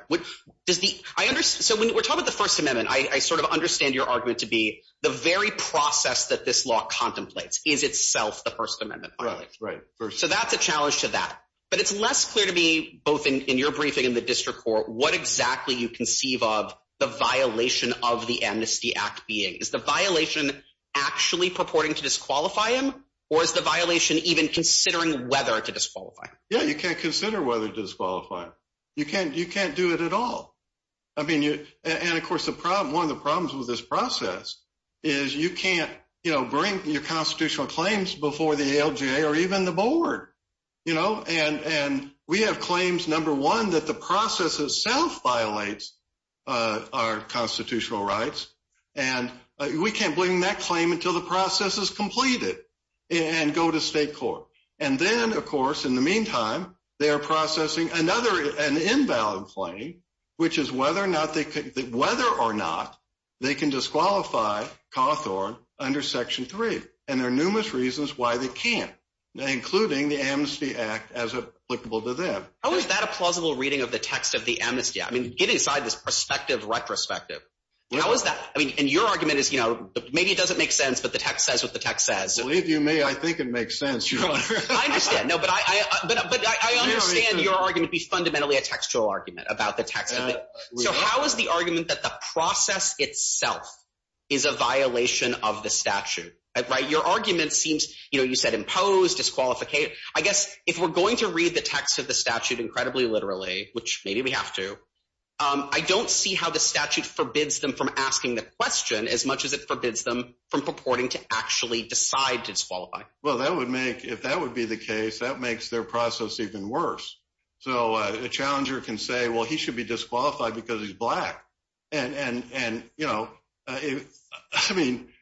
So, when we're talking about the First Amendment, I sort of understand your argument to be the very process that this law contemplates is itself the First Amendment. Right, right. So, that's a challenge to that. But it's less clear to me both in your briefing and the district court what exactly you conceive of the violation of the Amnesty Act being. Is the violation actually purporting to disqualify him or is the violation even considering whether to disqualify? Yeah, you can't consider whether to disqualify him. You can't do it at all. I mean, you… And, of course, the problem… One of the problems with this process is you can't, you know, bring your constitutional claims before the ALJ or even the board. You know? And we have claims, number one, that the process itself violates our constitutional rights. And we can't bring that claim until the process is completed and go to state court. And then, of course, in the meantime, they are processing another, an inbound claim, which is whether or not they can disqualify Cawthorne under Section 3. And there are numerous reasons why they can't, including the Amnesty Act as applicable to them. How is that a plausible reading of the text of the Amnesty Act? I mean, get inside this perspective, retrospective. How is that? I mean, and your argument is, you know, maybe it doesn't make sense, but the text says what the text says. Believe you me, I think it makes sense. I understand. No, but I understand your argument to be fundamentally a textual argument about the text. So how is the argument that the process itself is a violation of the statute? Your argument seems – you said imposed, disqualified. I guess if we're going to read the text of the statute incredibly literally, which maybe we have to, I don't see how the statute forbids them from asking the question as much as it forbids them from purporting to actually decide to disqualify. Well, that would make – if that would be the case, that makes their process even worse. So a challenger can say, well, he should be disqualified because he's black. And, you know, I mean –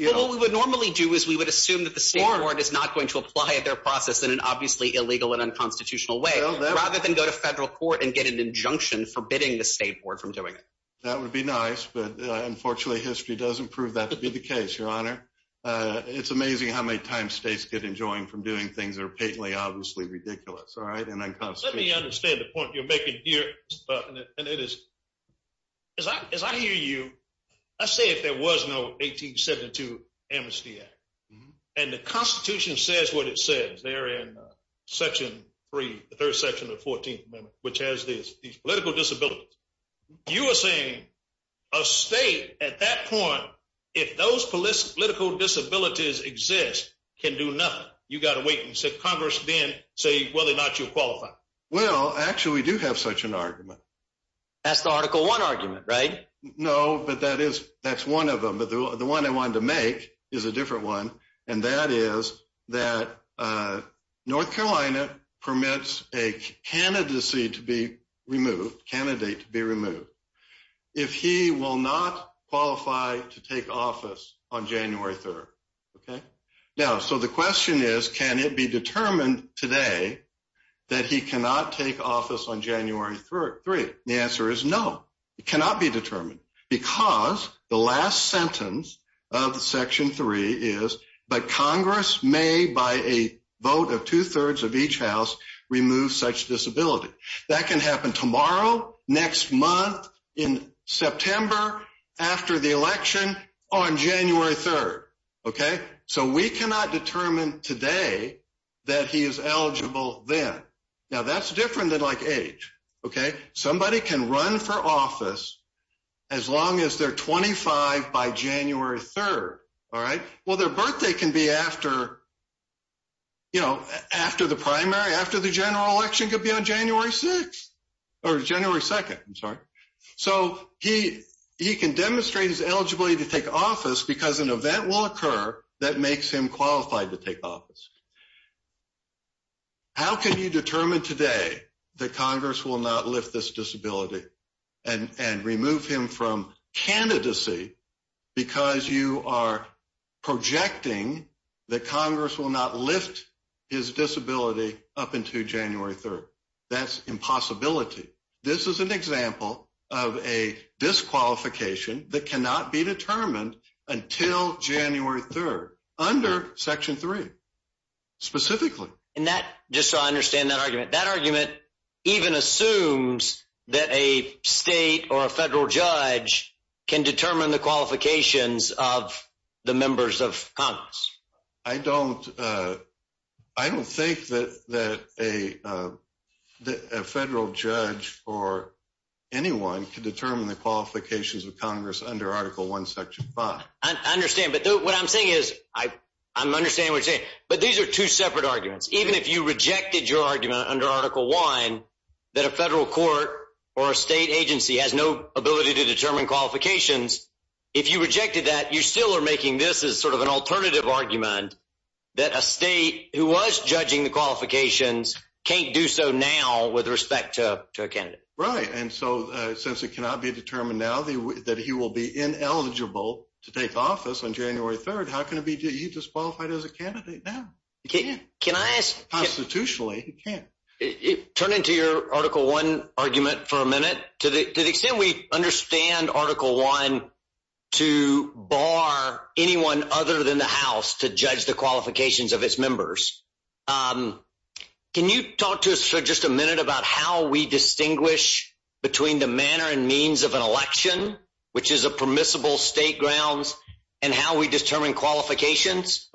What we would normally do is we would assume that the state board is not going to apply their process in an obviously illegal and unconstitutional way rather than go to federal court and get an injunction forbidding the state board from doing it. That would be nice, but unfortunately history doesn't prove that to be the case, Your Honor. It's amazing how many times states get enjoined from doing things that are patently, obviously ridiculous, all right, and unconstitutional. Let me understand the point you're making here, and it is – as I hear you, let's say if there was no 1872 Amnesty Act, and the Constitution says what it says there in Section 3, the third section of the 14th Amendment, which has these political disabilities, you are saying a state at that point, if those political disabilities exist, can do nothing. You've got to wait until Congress then says whether or not you're qualified. Well, actually we do have such an argument. That's the Article I argument, right? No, but that's one of them. The one I wanted to make is a different one, and that is that North Carolina permits a candidate to be removed if he will not qualify to take office on January 3rd. Now, so the question is can it be determined today that he cannot take office on January 3rd? The answer is no. It cannot be determined because the last sentence of Section 3 is, but Congress may, by a vote of two-thirds of each House, remove such disability. That can happen tomorrow, next month, in September, after the election, on January 3rd. Okay? So we cannot determine today that he is eligible then. Now, that's different than like age. Okay? Somebody can run for office as long as they're 25 by January 3rd. All right? Well, their birthday can be after, you know, after the primary, after the general election could be on January 6th or January 2nd. I'm sorry. So he can demonstrate his eligibility to take office because an event will occur that makes him qualified to take office. How can you determine today that Congress will not lift this disability and remove him from candidacy because you are projecting that Congress will not lift his disability up until January 3rd? That's impossibility. This is an example of a disqualification that cannot be determined until January 3rd, under Section 3, specifically. And that, just so I understand that argument, that argument even assumes that a state or a federal judge can determine the qualifications of the members of Congress. I don't think that a federal judge or anyone can determine the qualifications of Congress under Article I, Section 5. I understand. But what I'm saying is I'm understanding what you're saying. But these are two separate arguments. Even if you rejected your argument under Article I that a federal court or a state agency has no ability to determine qualifications, if you rejected that, you still are making this as sort of an alternative argument that a state who was judging the qualifications can't do so now with respect to a candidate. Right. And so since it cannot be determined now that he will be ineligible to take office on January 3rd, how can it be that he's disqualified as a candidate now? He can't. Constitutionally, he can't. Turning to your Article I argument for a minute, to the extent we understand Article I to bar anyone other than the House to judge the qualifications of its members, can you talk to us for just a minute about how we distinguish between the manner and means of an election, which is a permissible state grounds, and how we determine qualifications?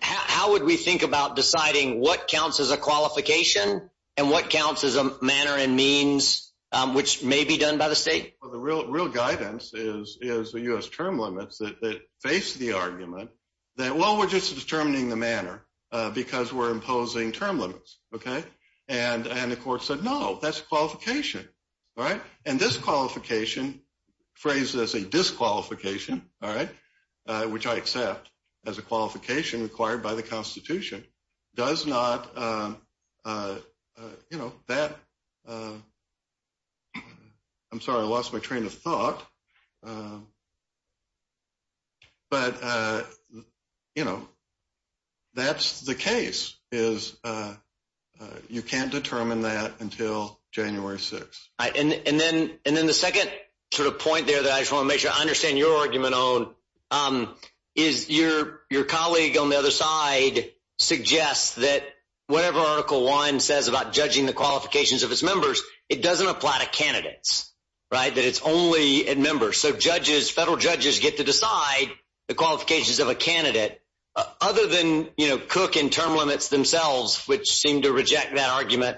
How would we think about deciding what counts as a qualification and what counts as a manner and means which may be done by the state? Well, the real guidance is the U.S. term limits that face the argument that, well, we're just determining the manner because we're imposing term limits. Okay? And the court said, no, that's qualification. Right? And disqualification, phrased as a disqualification, all right, which I accept as a qualification required by the Constitution, does not, you know, that – I'm sorry, I lost my train of thought – but, you know, that's the case, is you can't determine that until January 6th. And then the second sort of point there that I just want to make sure I understand your argument on is your colleague on the other side suggests that whatever Article I says about judging the qualifications of its members, it doesn't apply to candidates. Right? That it's only at members. So judges, federal judges get to decide the qualifications of a candidate. Other than, you know, Cook and term limits themselves, which seem to reject that argument,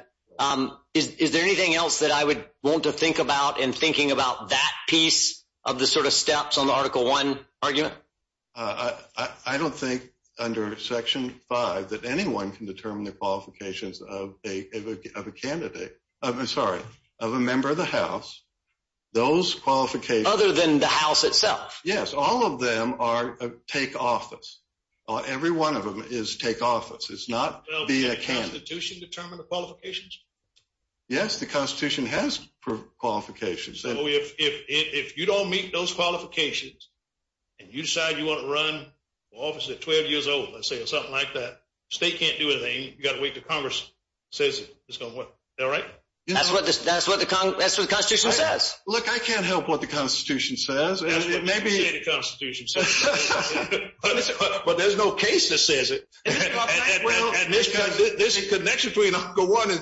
is there anything else that I would want to think about in thinking about that piece of the sort of steps on the Article I argument? I don't think under Section 5 that anyone can determine the qualifications of a candidate – I'm sorry, of a member of the House. Those qualifications – Other than the House itself. Yes. All of them are take office. Every one of them is take office. It's not be a candidate. Does the Constitution determine the qualifications? Yes, the Constitution has qualifications. So if you don't meet those qualifications and you decide you want to run for office at 12 years old, let's say, or something like that, the state can't do anything. You've got to wait until Congress says it. Is that right? That's what the Constitution says. Look, I can't help what the Constitution says. But there's no case that says it. There's a connection between Article I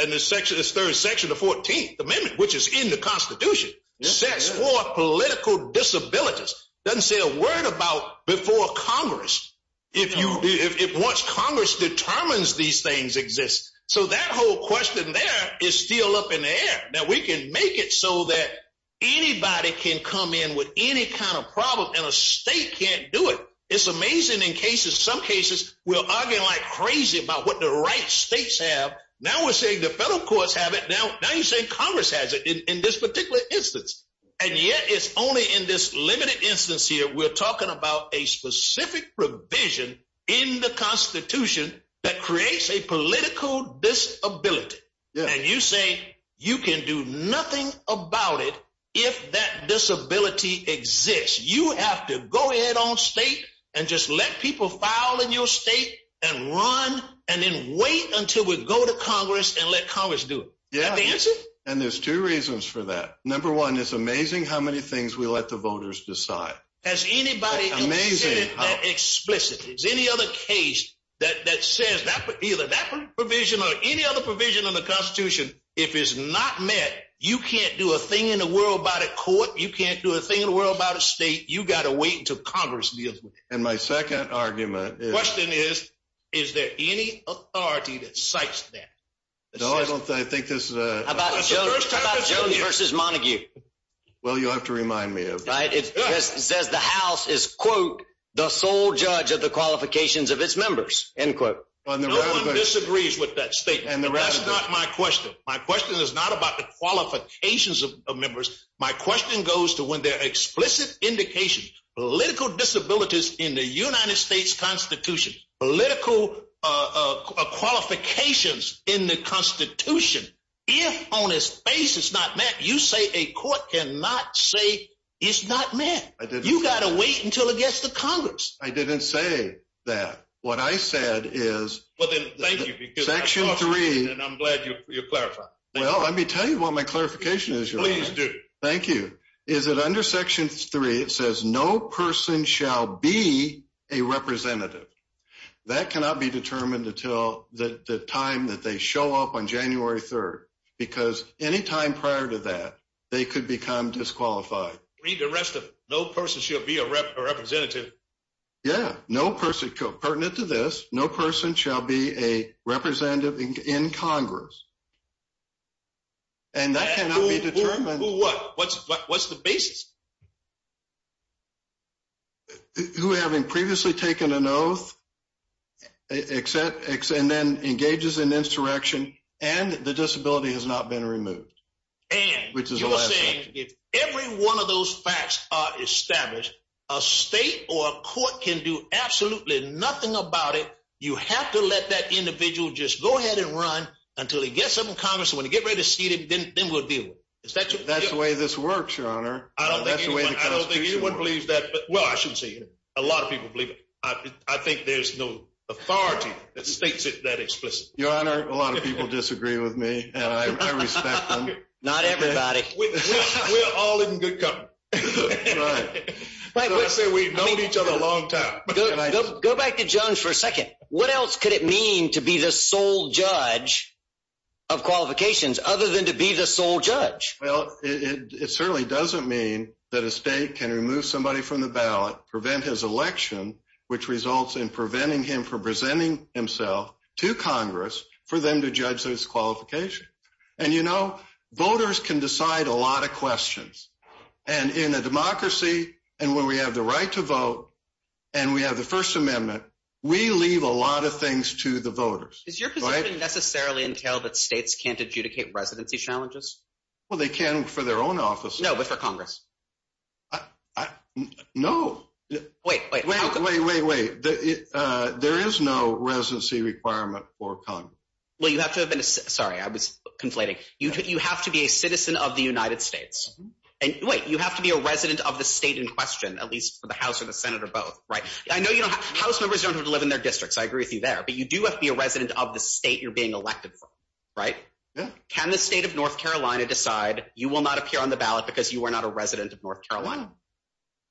and this very Section of the 14th Amendment, which is in the Constitution. It sets forth political disabilities. It doesn't say a word about before Congress, if once Congress determines these things exist. So that whole question there is still up in the air. Now, we can make it so that anybody can come in with any kind of problem, and a state can't do it. It's amazing in cases, some cases, we'll argue like crazy about what the right states have. Now we're saying the federal courts have it. Now you're saying Congress has it in this particular instance. And yet it's only in this limited instance here we're talking about a specific provision in the Constitution that creates a political disability. And you say you can do nothing about it if that disability exists. You have to go ahead on state and just let people file in your state and run, and then wait until we go to Congress and let Congress do it. Is that the answer? And there's two reasons for that. Number one, it's amazing how many things we let the voters decide. Amazing. Explicit. Is any other case that says that either that provision or any other provision in the Constitution, if it's not met, you can't do a thing in the world about it in court. You can't do a thing in the world about a state. You've got to wait until Congress deals with it. And my second argument is… The question is, is there any authority that cites that? No, I don't think this is a… How about Jones v. Montague? Well, you'll have to remind me of that. It says the House is, quote, the sole judge of the qualifications of its members, end quote. I disagree with that statement. That's not my question. My question is not about the qualifications of members. My question goes to when there are explicit indications, political disabilities in the United States Constitution, political qualifications in the Constitution, if on its face it's not met, you say a court cannot say it's not met. You've got to wait until it gets to Congress. I didn't say that. What I said is… Well, then, thank you. Section 3… And I'm glad you're clarifying. Well, let me tell you what my clarification is. Please do. Thank you. My clarification is that under Section 3 it says no person shall be a representative. That cannot be determined until the time that they show up on January 3rd, because any time prior to that they could become disqualified. Read the rest of it. No person shall be a representative. Yeah. No person, pertinent to this, no person shall be a representative in Congress. And that cannot be determined. Who what? What's the basis? Who having previously taken an oath and then engages in insurrection and the disability has not been removed, which is the last thing. And you're saying if every one of those facts are established, a state or a court can do absolutely nothing about it. You have to let that individual just go ahead and run until he gets up in Congress and when he gets ready to speak, then we'll deal with it. That's the way this works, Your Honor. I don't think anyone believes that. Well, I shouldn't say anyone. A lot of people believe it. I think there's no authority that makes it that explicit. Your Honor, a lot of people disagree with me, and I respect them. Not everybody. We're all in good company. We've known each other a long time. Go back to Jones for a second. What else could it mean to be the sole judge of qualifications other than to be the sole judge? Well, it certainly doesn't mean that a state can remove somebody from the ballot, prevent his election, which results in preventing him from presenting himself to Congress for them to judge his qualification. And, you know, voters can decide a lot of questions. And in a democracy and where we have the right to vote and we have the First Amendment, we leave a lot of things to the voters. Does your position necessarily entail that states can't adjudicate residency challenges? Well, they can for their own offices. No, but for Congress. No. Wait, wait, wait, wait, wait. There is no residency requirement for Congress. Well, you have to have been – sorry, I was conflating. You have to be a citizen of the United States. And, wait, you have to be a resident of the state in question, at least for the House and the Senate or both, right? I know House members don't have to live in their districts. I agree with you there. But you do have to be a resident of the state you're being elected for, right? Yeah. Can the state of North Carolina decide you will not appear on the ballot because you are not a resident of North Carolina?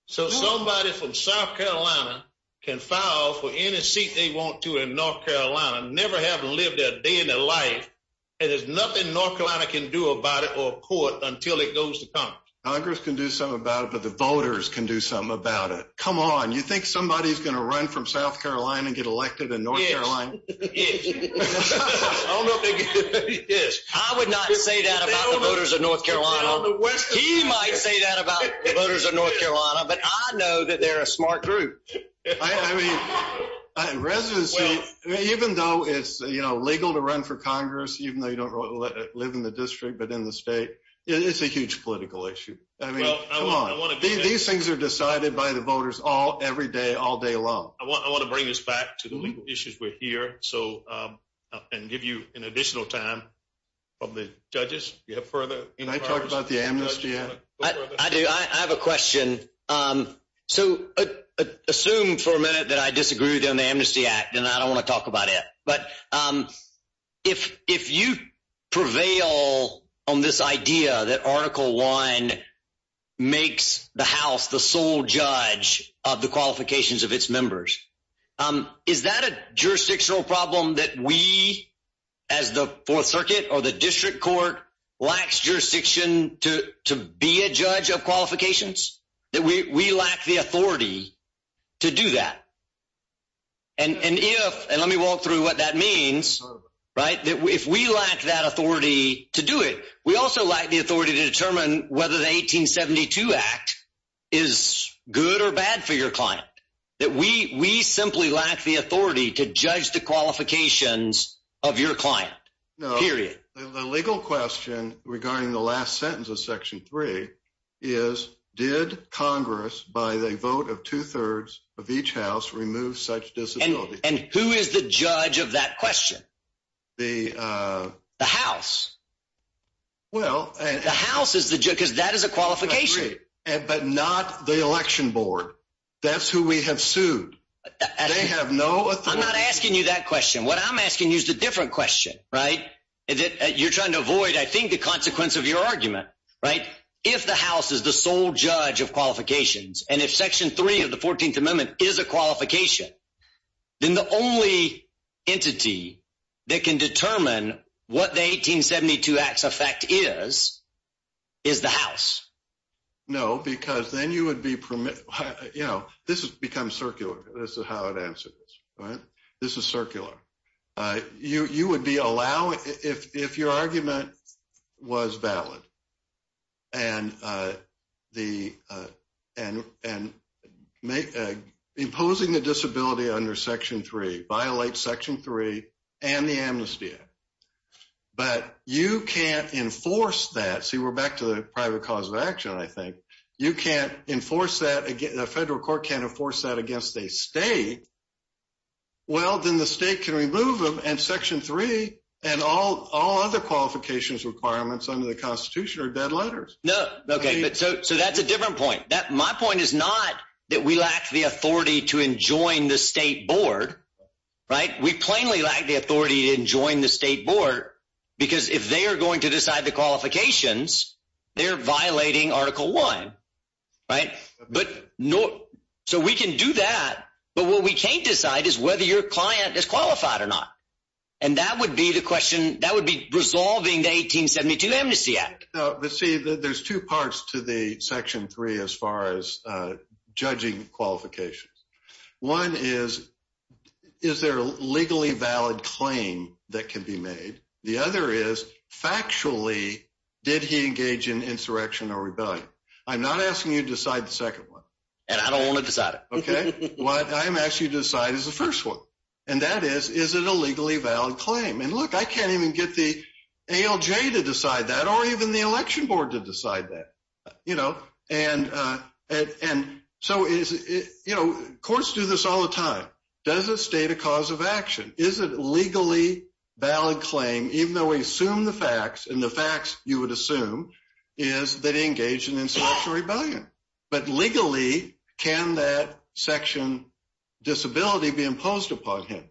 So, somebody from South Carolina can file for any seat they want to in North Carolina, never have to live that day in their life, and there's nothing North Carolina can do about it or court until it goes to Congress. Congress can do something about it, but the voters can do something about it. Come on. You think somebody is going to run from South Carolina and get elected in North Carolina? Yes. Yes. I would not say that about the voters of North Carolina. He might say that about the voters of North Carolina, but I know that they're a smart group. I mean, residency, even though it's legal to run for Congress, even though you don't live in the district but in the state, it's a huge political issue. I mean, come on. These things are decided by the voters every day, all day long. I want to bring this back to the legal issues we're here. And give you an additional time from the judges. Do you have further? Can I talk about the Amnesty Act? I do. I have a question. So, assume for a minute that I disagree with you on the Amnesty Act, and I don't want to talk about it, but if you prevail on this idea that Article I makes the House the sole judge of the qualifications of its members, is that a jurisdictional problem that we, as the Fourth Circuit or the district court, lacks jurisdiction to be a judge of qualifications? That we lack the authority to do that? And if, and let me walk through what that means, right, that if we lack that authority to do it, we also lack the authority to determine whether the 1872 Act is good or bad for your client. That we simply lack the authority to judge the qualifications of your client. Period. The legal question regarding the last sentence of Section 3 is, did Congress, by the vote of two-thirds of each House, remove such disability? And who is the judge of that question? The… The House. Well… The House is the judge, because that is a qualification. But not the election board. That's who we have sued. They have no authority… I'm not asking you that question. What I'm asking you is a different question, right? You're trying to avoid, I think, the consequence of your argument, right? If the House is the sole judge of qualifications, and if Section 3 of the 14th Amendment is a qualification, then the only entity that can determine what the 1872 Act's effect is, is the House. No, because then you would be… You know, this becomes circular. This is how it answers, right? This is circular. You would be allowing… If your argument was valid, and imposing a disability under Section 3 violates Section 3 and the amnesty act. But you can't enforce that. See, we're back to the private cause of action, I think. You can't enforce that. The federal court can't enforce that against a state. Well, then the state can remove them, and Section 3 and all other qualifications requirements under the Constitution are dead letters. No, okay. So, that's a different point. My point is not that we lack the authority to enjoin the state board, right? We plainly lack the authority to enjoin the state board, because if they are going to decide the qualifications, they're violating Article 1, right? So, we can do that, but what we can't decide is whether your client is qualified or not. And that would be the question… That would be resolving the 1872 Amnesty Act. But see, there's two parts to the Section 3 as far as judging qualifications. One is, is there a legally valid claim that can be made? The other is, factually, did he engage in insurrection or rebellion? I'm not asking you to decide the second one. And I don't want to decide it. Okay. What I'm asking you to decide is the first one, and that is, is it a legally valid claim? And look, I can't even get the ALJ to decide that or even the election board to decide that, you know? And so, you know, courts do this all the time. Does the state a cause of action? Is it a legally valid claim, even though we assume the facts, and the facts, you would assume, is that he engaged in insurrection or rebellion? But legally, can that section disability be imposed upon him?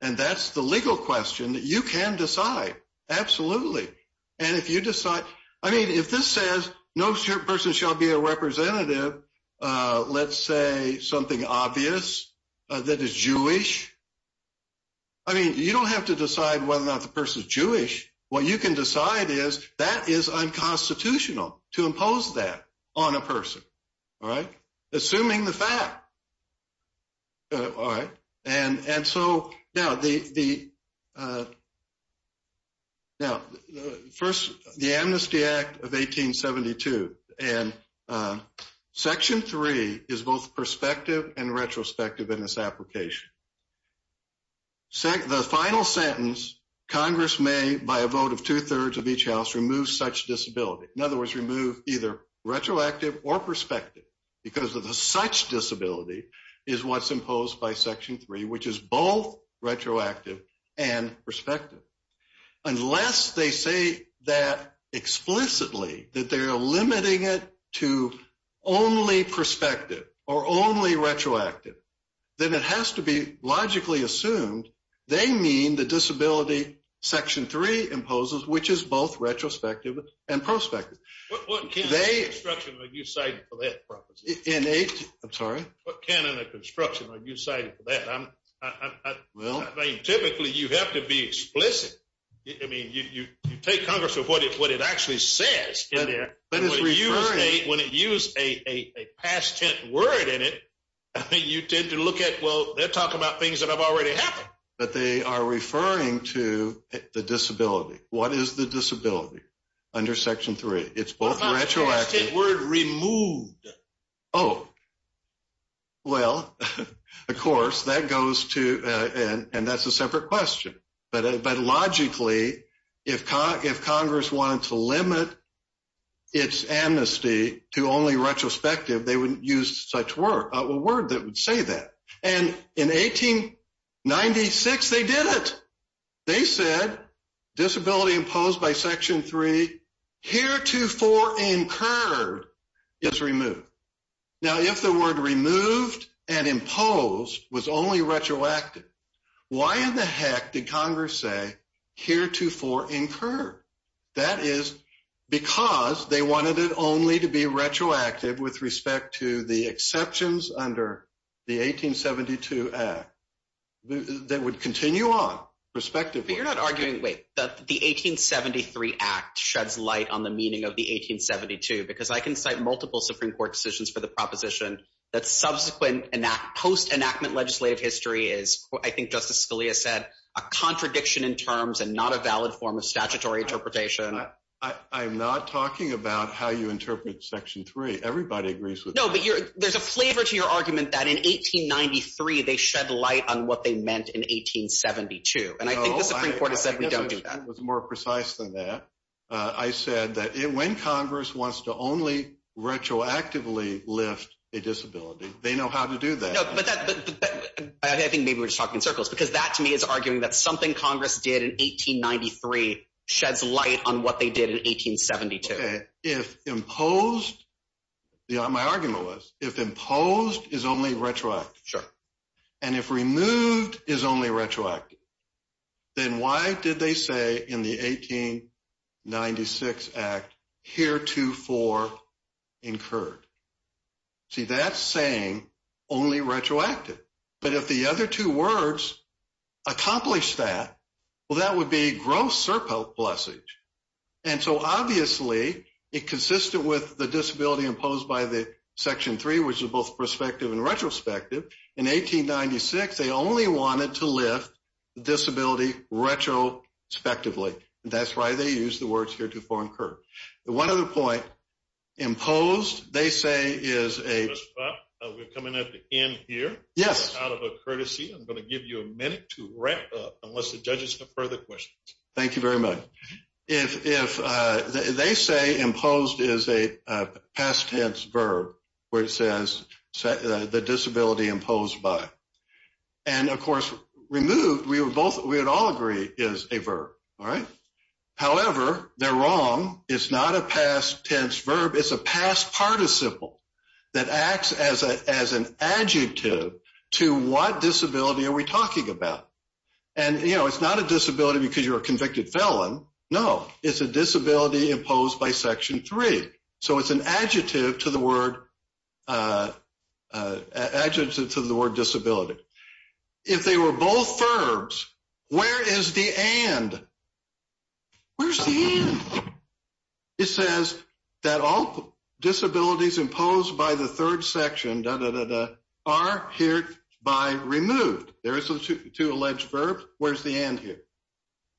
And that's the legal question that you can decide. Absolutely. And if you decide, I mean, if this says, no person shall be a representative, let's say, something obvious that is Jewish, I mean, you don't have to decide whether or not the person is Jewish. What you can decide is, that is unconstitutional to impose that on a person. All right? Assuming the fact. All right? And so, now, the, now, first, the Amnesty Act of 1872, and Section 3 is both perspective and retrospective in its application. The final sentence, Congress may, by a vote of two-thirds of each house, remove such disability. In other words, remove either retroactive or perspective, because of the such disability is what's imposed by Section 3, which is both retroactive and perspective. Unless they say that explicitly, that they're limiting it to only perspective, or only retroactive, then it has to be logically assumed, they mean the disability Section 3 imposes, which is both retrospective and prospective. What canon of construction have you cited for that? In a, I'm sorry? What canon of construction have you cited for that? Well. I mean, typically, you have to be explicit. I mean, you take Congress for what it actually says in there. That is referring. When you use a past tense word in it, you tend to look at, well, they're talking about things that have already happened. But they are referring to the disability. What is the disability under Section 3? It's both retroactive. The past tense word, removed. Oh. Well, of course, that goes to, and that's a separate question. But logically, if Congress wants to limit its amnesty to only retrospective, they would use such a word that would say that. And in 1896, they did it. They said disability imposed by Section 3 heretofore incurred is removed. Now, if the word removed and imposed was only retroactive, why in the heck did Congress say heretofore incurred? That is because they wanted it only to be retroactive with respect to the exceptions under the 1872 Act that would continue on, respectively. So you're not arguing, wait, the 1873 Act sheds light on the meaning of the 1872, because I can cite multiple Supreme Court decisions for the proposition that subsequent post-enactment legislative history is, I think Justice Scalia said, a contradiction in terms and not a valid form of statutory interpretation. I'm not talking about how you interpret Section 3. Everybody agrees with that. No, but there's a flavor to your argument that in 1893 they shed light on what they meant in 1872. And I think the Supreme Court has said we don't do that. No, I think it was more precise than that. I said that when Congress wants to only retroactively lift a disability, they know how to do that. I think maybe we're just talking in circles because that to me is arguing that something Congress did in 1893 sheds light on what they did in 1872. If imposed – my argument was if imposed is only retroactive, and if removed is only retroactive, then why did they say in the 1896 Act heretofore incurred? See, that's saying only retroactive. But if the other two words accomplish that, well, that would be gross surplusage. And so, obviously, it consisted with the disability imposed by the Section 3, which is both prospective and retrospective. In 1896, they only wanted to lift the disability retrospectively. And that's why they used the words heretofore incurred. One other point. Imposed, they say, is a – Mr. Butt, we're coming at the end here. Yes. Out of a courtesy, I'm going to give you a minute to wrap up unless the judges have further questions. Thank you very much. They say imposed is a past tense verb where it says the disability imposed by. And, of course, removed, we would all agree, is a verb, right? However, they're wrong. It's not a past tense verb. It's a past participle that acts as an adjective to what disability are we talking about. And, you know, it's not a disability because you're a convicted felon. No. It's a disability imposed by Section 3. So it's an adjective to the word disability. If they were both verbs, where is the and? Where's the and? It says that all disabilities imposed by the third section are hereby removed. There are two alleged verbs. Where's the and here?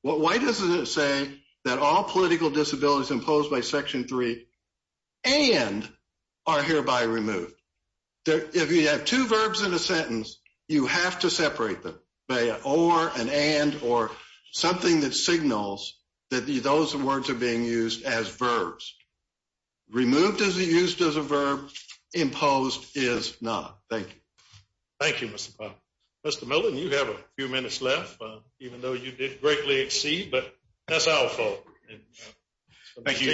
Why doesn't it say that all political disabilities imposed by Section 3 and are hereby removed? If you have two verbs in a sentence, you have to separate them by an or, an and, or something that signals that those words are being used as verbs. Removed isn't used as a verb. Imposed is not. Thank you. Thank you, Mr. Miller. Mr. Miller, you have a few minutes left, even though you did greatly exceed. But that's our fault. Thank you.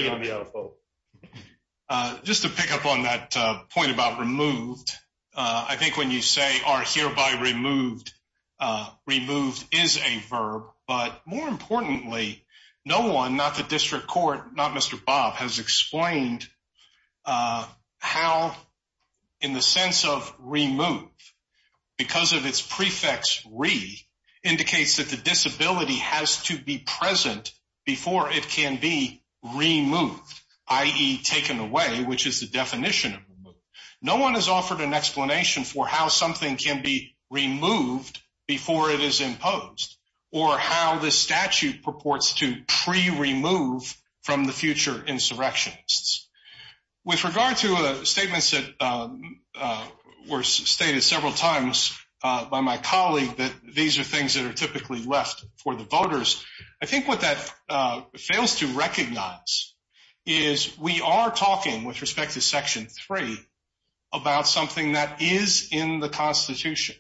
Just to pick up on that point about removed, I think when you say are hereby removed, removed is a verb. But more importantly, no one, not the district court, not Mr. Bob, has explained how, in the sense of removed, because of its prefix re, indicates that the disability has to be present before it can be removed, i.e., taken away, which is the definition of removed. No one has offered an explanation for how something can be removed before it is imposed or how the statute purports to pre-remove from the future insurrections. With regard to statements that were stated several times by my colleague, that these are things that are typically left for the voters, I think what that fails to recognize is we are talking, with respect to Section 3, about something that is in the Constitution.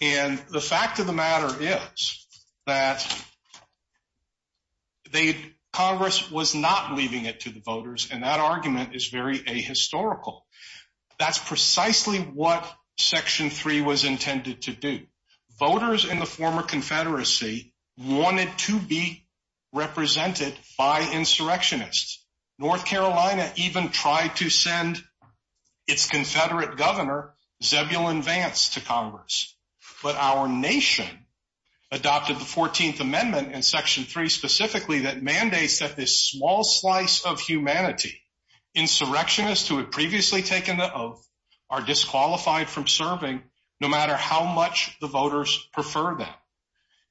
And the fact of the matter is that Congress was not leaving it to the voters, and that argument is very ahistorical. That's precisely what Section 3 was intended to do. Voters in the former Confederacy wanted to be represented by insurrectionists. North Carolina even tried to send its Confederate governor, Zebulon Vance, to Congress. But our nation adopted the 14th Amendment in Section 3 specifically that mandates that this small slice of humanity, insurrectionists who had previously taken the oath, are disqualified from serving, no matter how much the voters prefer them.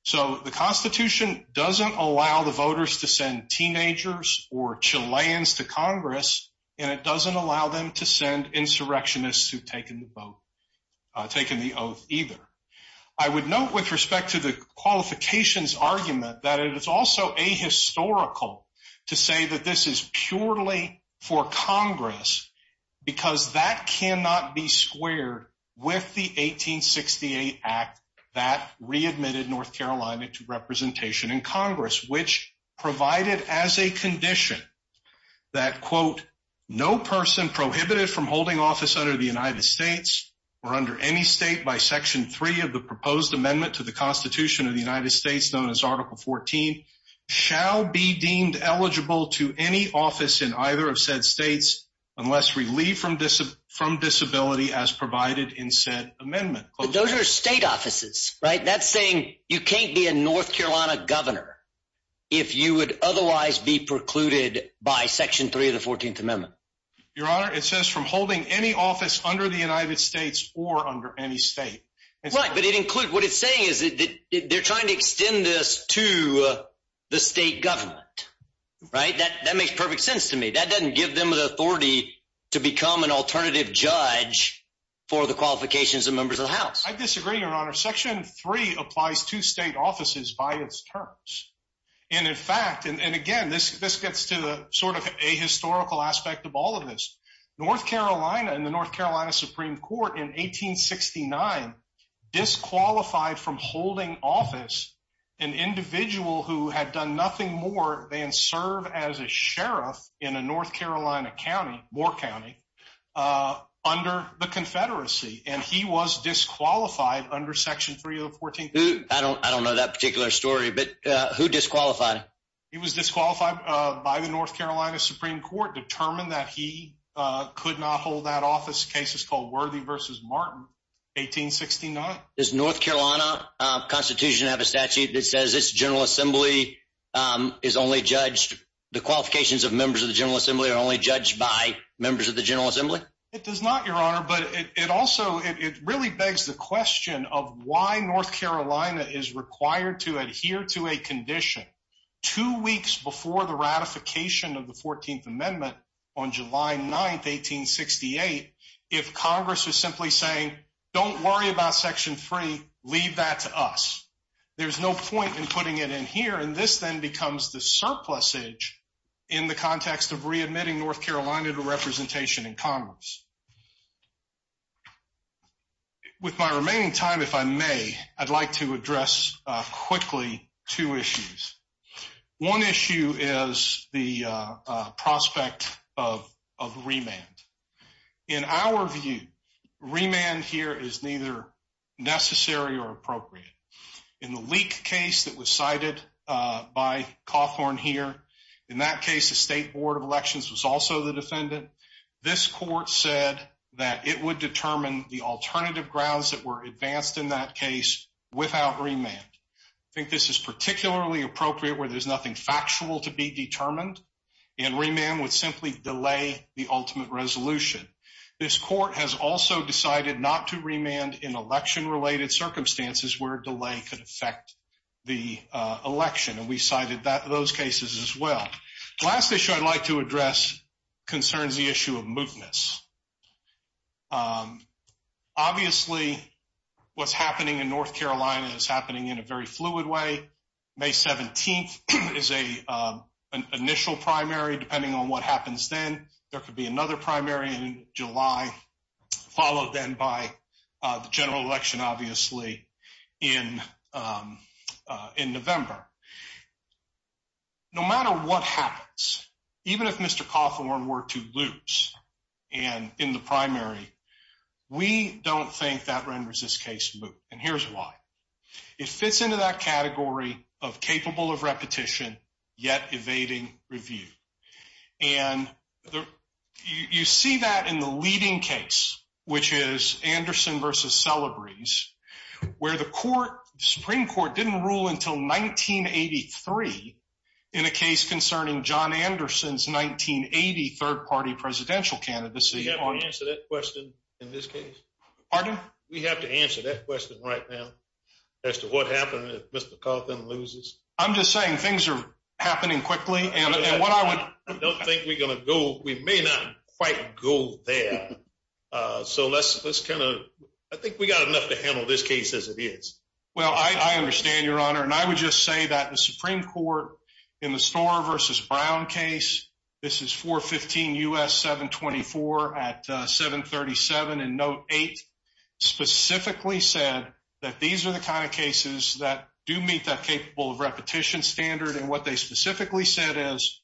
So the Constitution doesn't allow the voters to send teenagers or Chileans to Congress, and it doesn't allow them to send insurrectionists who have taken the oath either. I would note, with respect to the qualifications argument, that it is also ahistorical to say that this is purely for Congress, because that cannot be squared with the 1868 Act that readmitted North Carolina to representation in Congress, which provided as a condition that, quote, no person prohibited from holding office under the United States or under any state by Section 3 of the proposed amendment to the Constitution of the United States, known as Article 14, shall be deemed eligible to any office in either of said states unless relieved from disability as provided in said amendment. But those are state offices, right? That's saying you can't be a North Carolina governor if you would otherwise be precluded by Section 3 of the 14th Amendment. Your Honor, it says from holding any office under the United States or under any state. Right, but what it's saying is that they're trying to extend this to the state government, right? That makes perfect sense to me. That doesn't give them the authority to become an alternative judge for the qualifications of members of the House. I disagree, Your Honor. Section 3 applies to state offices by its terms. And, in fact, and again, this gets to the sort of ahistorical aspect of all of this. North Carolina and the North Carolina Supreme Court in 1869 disqualified from holding office an individual who had done nothing more than serve as a sheriff in a North Carolina county, Moore County, under the Confederacy, and he was disqualified under Section 3 of the 14th Amendment. I don't know that particular story, but who disqualified him? He was disqualified by the North Carolina Supreme Court, determined that he could not hold that office, a case that's called Worthy v. Martin, 1869. Does North Carolina Constitution have a statute that says this General Assembly is only judged, the qualifications of members of the General Assembly are only judged by members of the General Assembly? It does not, Your Honor, but it also, it really begs the question of why North Carolina is required to adhere to a condition. Two weeks before the ratification of the 14th Amendment on July 9th, 1868, if Congress is simply saying, don't worry about Section 3, leave that to us, there's no point in putting it in here, and this then becomes the surplusage in the context of readmitting North Carolina to representation in Congress. With my remaining time, if I may, I'd like to address quickly two issues. One issue is the prospect of remand. In our view, remand here is neither necessary or appropriate. In the Leek case that was cited by Cawthorn here, in that case the State Board of Elections was also the defendant. This court said that it would determine the alternative grounds that were advanced in that case without remand. I think this is particularly appropriate where there's nothing factual to be determined, and remand would simply delay the ultimate resolution. This court has also decided not to remand in election-related circumstances where delay could affect the election, and we cited those cases as well. The last issue I'd like to address concerns the issue of mootness. Obviously, what's happening in North Carolina is happening in a very fluid way. May 17th is an initial primary, depending on what happens then. There could be another primary in July, followed then by the general election, obviously, in November. No matter what happens, even if Mr. Cawthorn were to lose in the primary, we don't think that renders this case moot, and here's why. It fits into that category of capable of repetition, yet evading review. You see that in the leading case, which is Anderson v. Celebres, where the Supreme Court didn't rule until 1983 in a case concerning John Anderson's 1980 third-party presidential candidacy. We have to answer that question in this case. Pardon? We have to answer that question right now as to what happens if Mr. Cawthorn loses. I'm just saying things are happening quickly, and what I would— I don't think we're going to go—we may not quite go there, so let's kind of—I think we've got enough to handle this case as it is. Well, I understand, Your Honor, and I would just say that the Supreme Court in the Storer v. Brown case—this is 415 U.S. 724 at 737 in Note 8— and what they specifically said is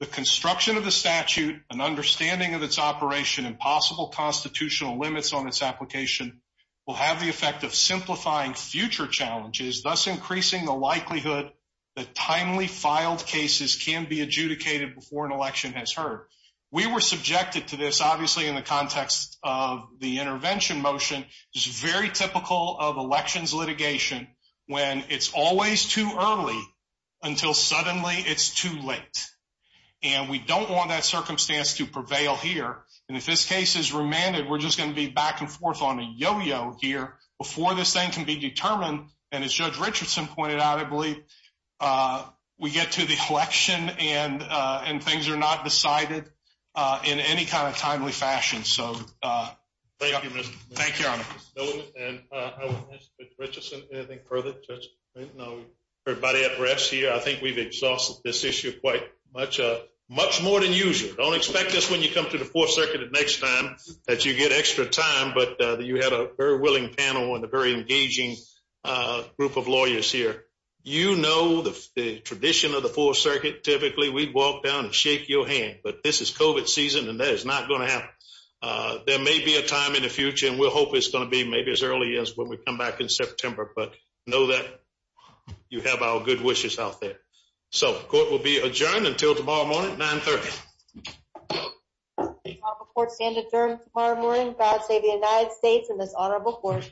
the construction of the statute, an understanding of its operation, and possible constitutional limits on its application will have the effect of simplifying future challenges, thus increasing the likelihood that timely filed cases can be adjudicated before an election has heard. We were subjected to this, obviously, in the context of the intervention motion, which is very typical of elections litigation when it's always too early until suddenly it's too late, and we don't want that circumstance to prevail here, and if this case is remanded, we're just going to be back and forth on a yo-yo here before this then can be determined, and as Judge Richardson pointed out, I believe, we get to the election and things are not decided in any kind of timely fashion. Thank you, Your Honor. Thank you, Mr. Miller. Judge Richardson, anything further? Everybody at rest here, I think we've exhausted this issue quite much, much more than usual. Don't expect this when you come to the Fourth Circuit the next time that you get extra time, but you had a very willing panel and a very engaging group of lawyers here. You know the tradition of the Fourth Circuit. Typically, we walk down and shake your hand, but this is COVID season, and that is not going to happen. There may be a time in the future, and we'll hope it's going to be maybe as early as when we come back in September, but know that you have our good wishes out there. So the court will be adjourned until tomorrow morning at 930. Court is adjourned until tomorrow morning. God save the United States and this honorable court.